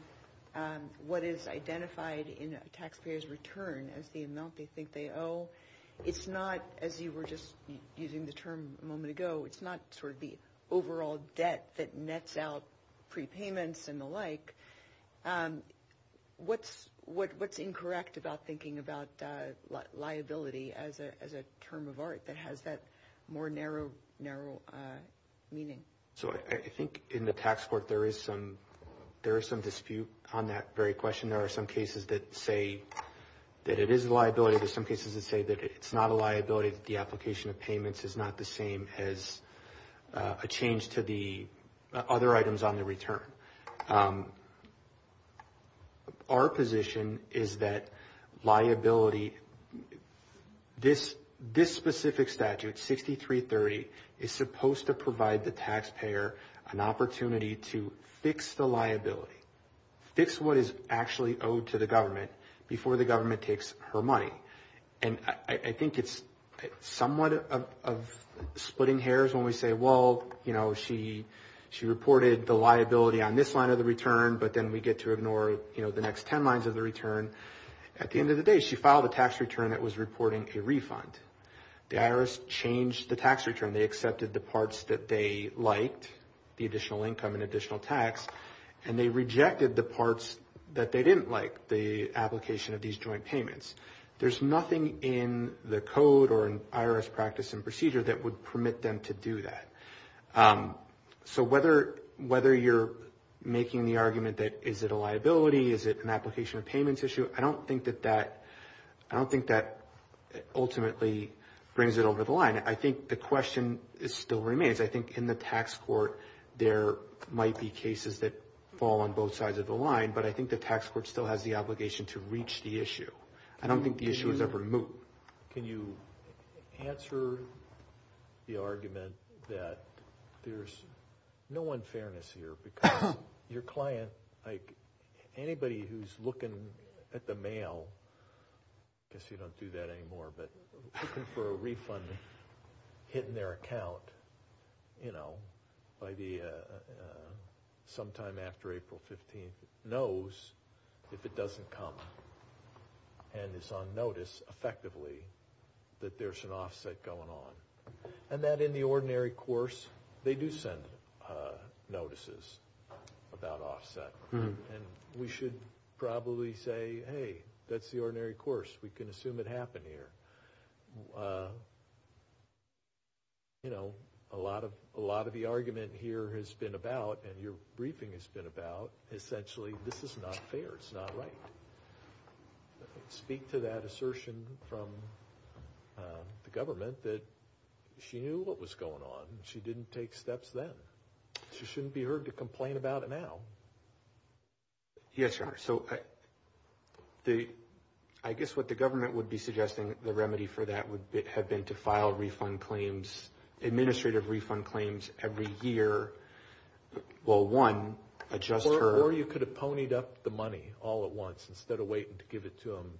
what is identified in a taxpayer's return as the amount they think they owe. It's not, as you were just using the term a moment ago, it's not sort of the overall debt that nets out prepayments and the like. What's incorrect about thinking about liability as a term of art that has that more narrow meaning? So I think in the tax court there is some dispute on that very question. There are some cases that say that it is liability. There are some cases that say that it's not a liability, that the application of payments is not the same as a change to the other items on the return. Our position is that liability, this specific statute, 6330, is supposed to provide the taxpayer an opportunity to fix the liability, fix what is actually owed to the government before the government takes her money. And I think it's somewhat of splitting hairs when we say, well, she reported the liability on this line of the return, but then we get to ignore the next ten lines of the return. At the end of the day, she filed a tax return that was reporting a refund. The IRS changed the tax return. They accepted the parts that they liked, the additional income and additional tax, and they rejected the parts that they didn't like, the application of these joint payments. There's nothing in the code or in IRS practice and procedure that would permit them to do that. So whether you're making the argument that is it a liability, is it an application of payment issue, I don't think that ultimately brings it over the line. I think the question still remains. I think in the tax court there might be cases that fall on both sides of the line, but I think the tax court still has the obligation to reach the issue. I don't think the issue is ever moved. Can you answer the argument that there's no unfairness here because your client, anybody who's looking at the mail, I guess we don't do that anymore, but looking for a refund hit in their account sometime after April 15th, knows if it doesn't come and is on notice effectively that there's an offset going on. And that in the ordinary course they do send notices about offset. And we should probably say, hey, that's the ordinary course. We can assume it happened here. You know, a lot of the argument here has been about, and your briefing has been about, essentially this is not fair, it's not right. Speak to that assertion from the government that she knew what was going on. She didn't take steps then. She shouldn't be heard to complain about it now. Yes, sir. So I guess what the government would be suggesting the remedy for that would have been to file administrative refund claims every year. Well, one, adjust her. Or you could have ponied up the money all at once instead of waiting to give it to them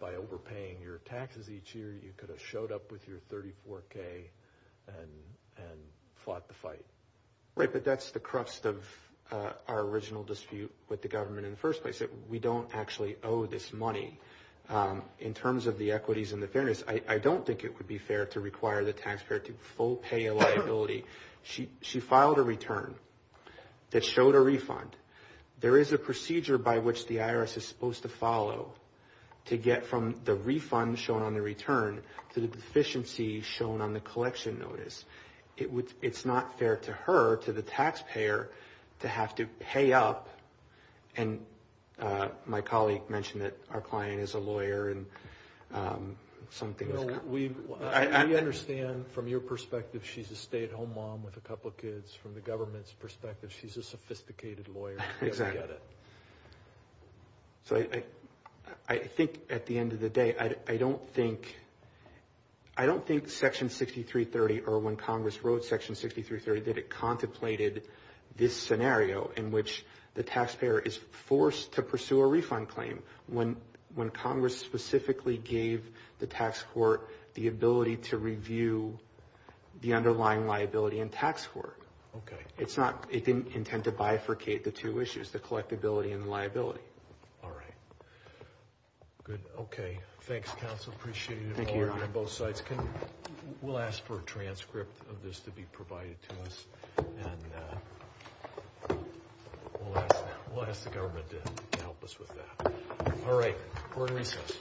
by overpaying your taxes each year. You could have showed up with your 34K and fought the fight. Right, but that's the crust of our original dispute with the government in the first place, that we don't actually owe this money. In terms of the equities and the fairness, I don't think it would be fair to require the taxpayer to full pay a liability. She filed a return that showed a refund. There is a procedure by which the IRS is supposed to follow to get from the refund shown on the return to the deficiency shown on the collection notice. It's not fair to her, to the taxpayer, to have to pay up, and my colleague mentioned that our client is a lawyer and something like that. We understand from your perspective she's a stay-at-home mom with a couple of kids. From the government's perspective, she's a sophisticated lawyer. Exactly. So I think at the end of the day, I don't think Section 6330 or when Congress wrote Section 6330, that it contemplated this scenario in which the taxpayer is forced to pursue a refund claim. When Congress specifically gave the tax court the ability to review the underlying liability and tax work, it didn't intend to bifurcate the two issues, the collectability and the liability. All right. Good. Okay. Thanks, counsel. Appreciate it. Thank you, Your Honor. We'll ask for a transcript of this to be provided to us, and we'll ask the government to help us with that. All right. We're in recess.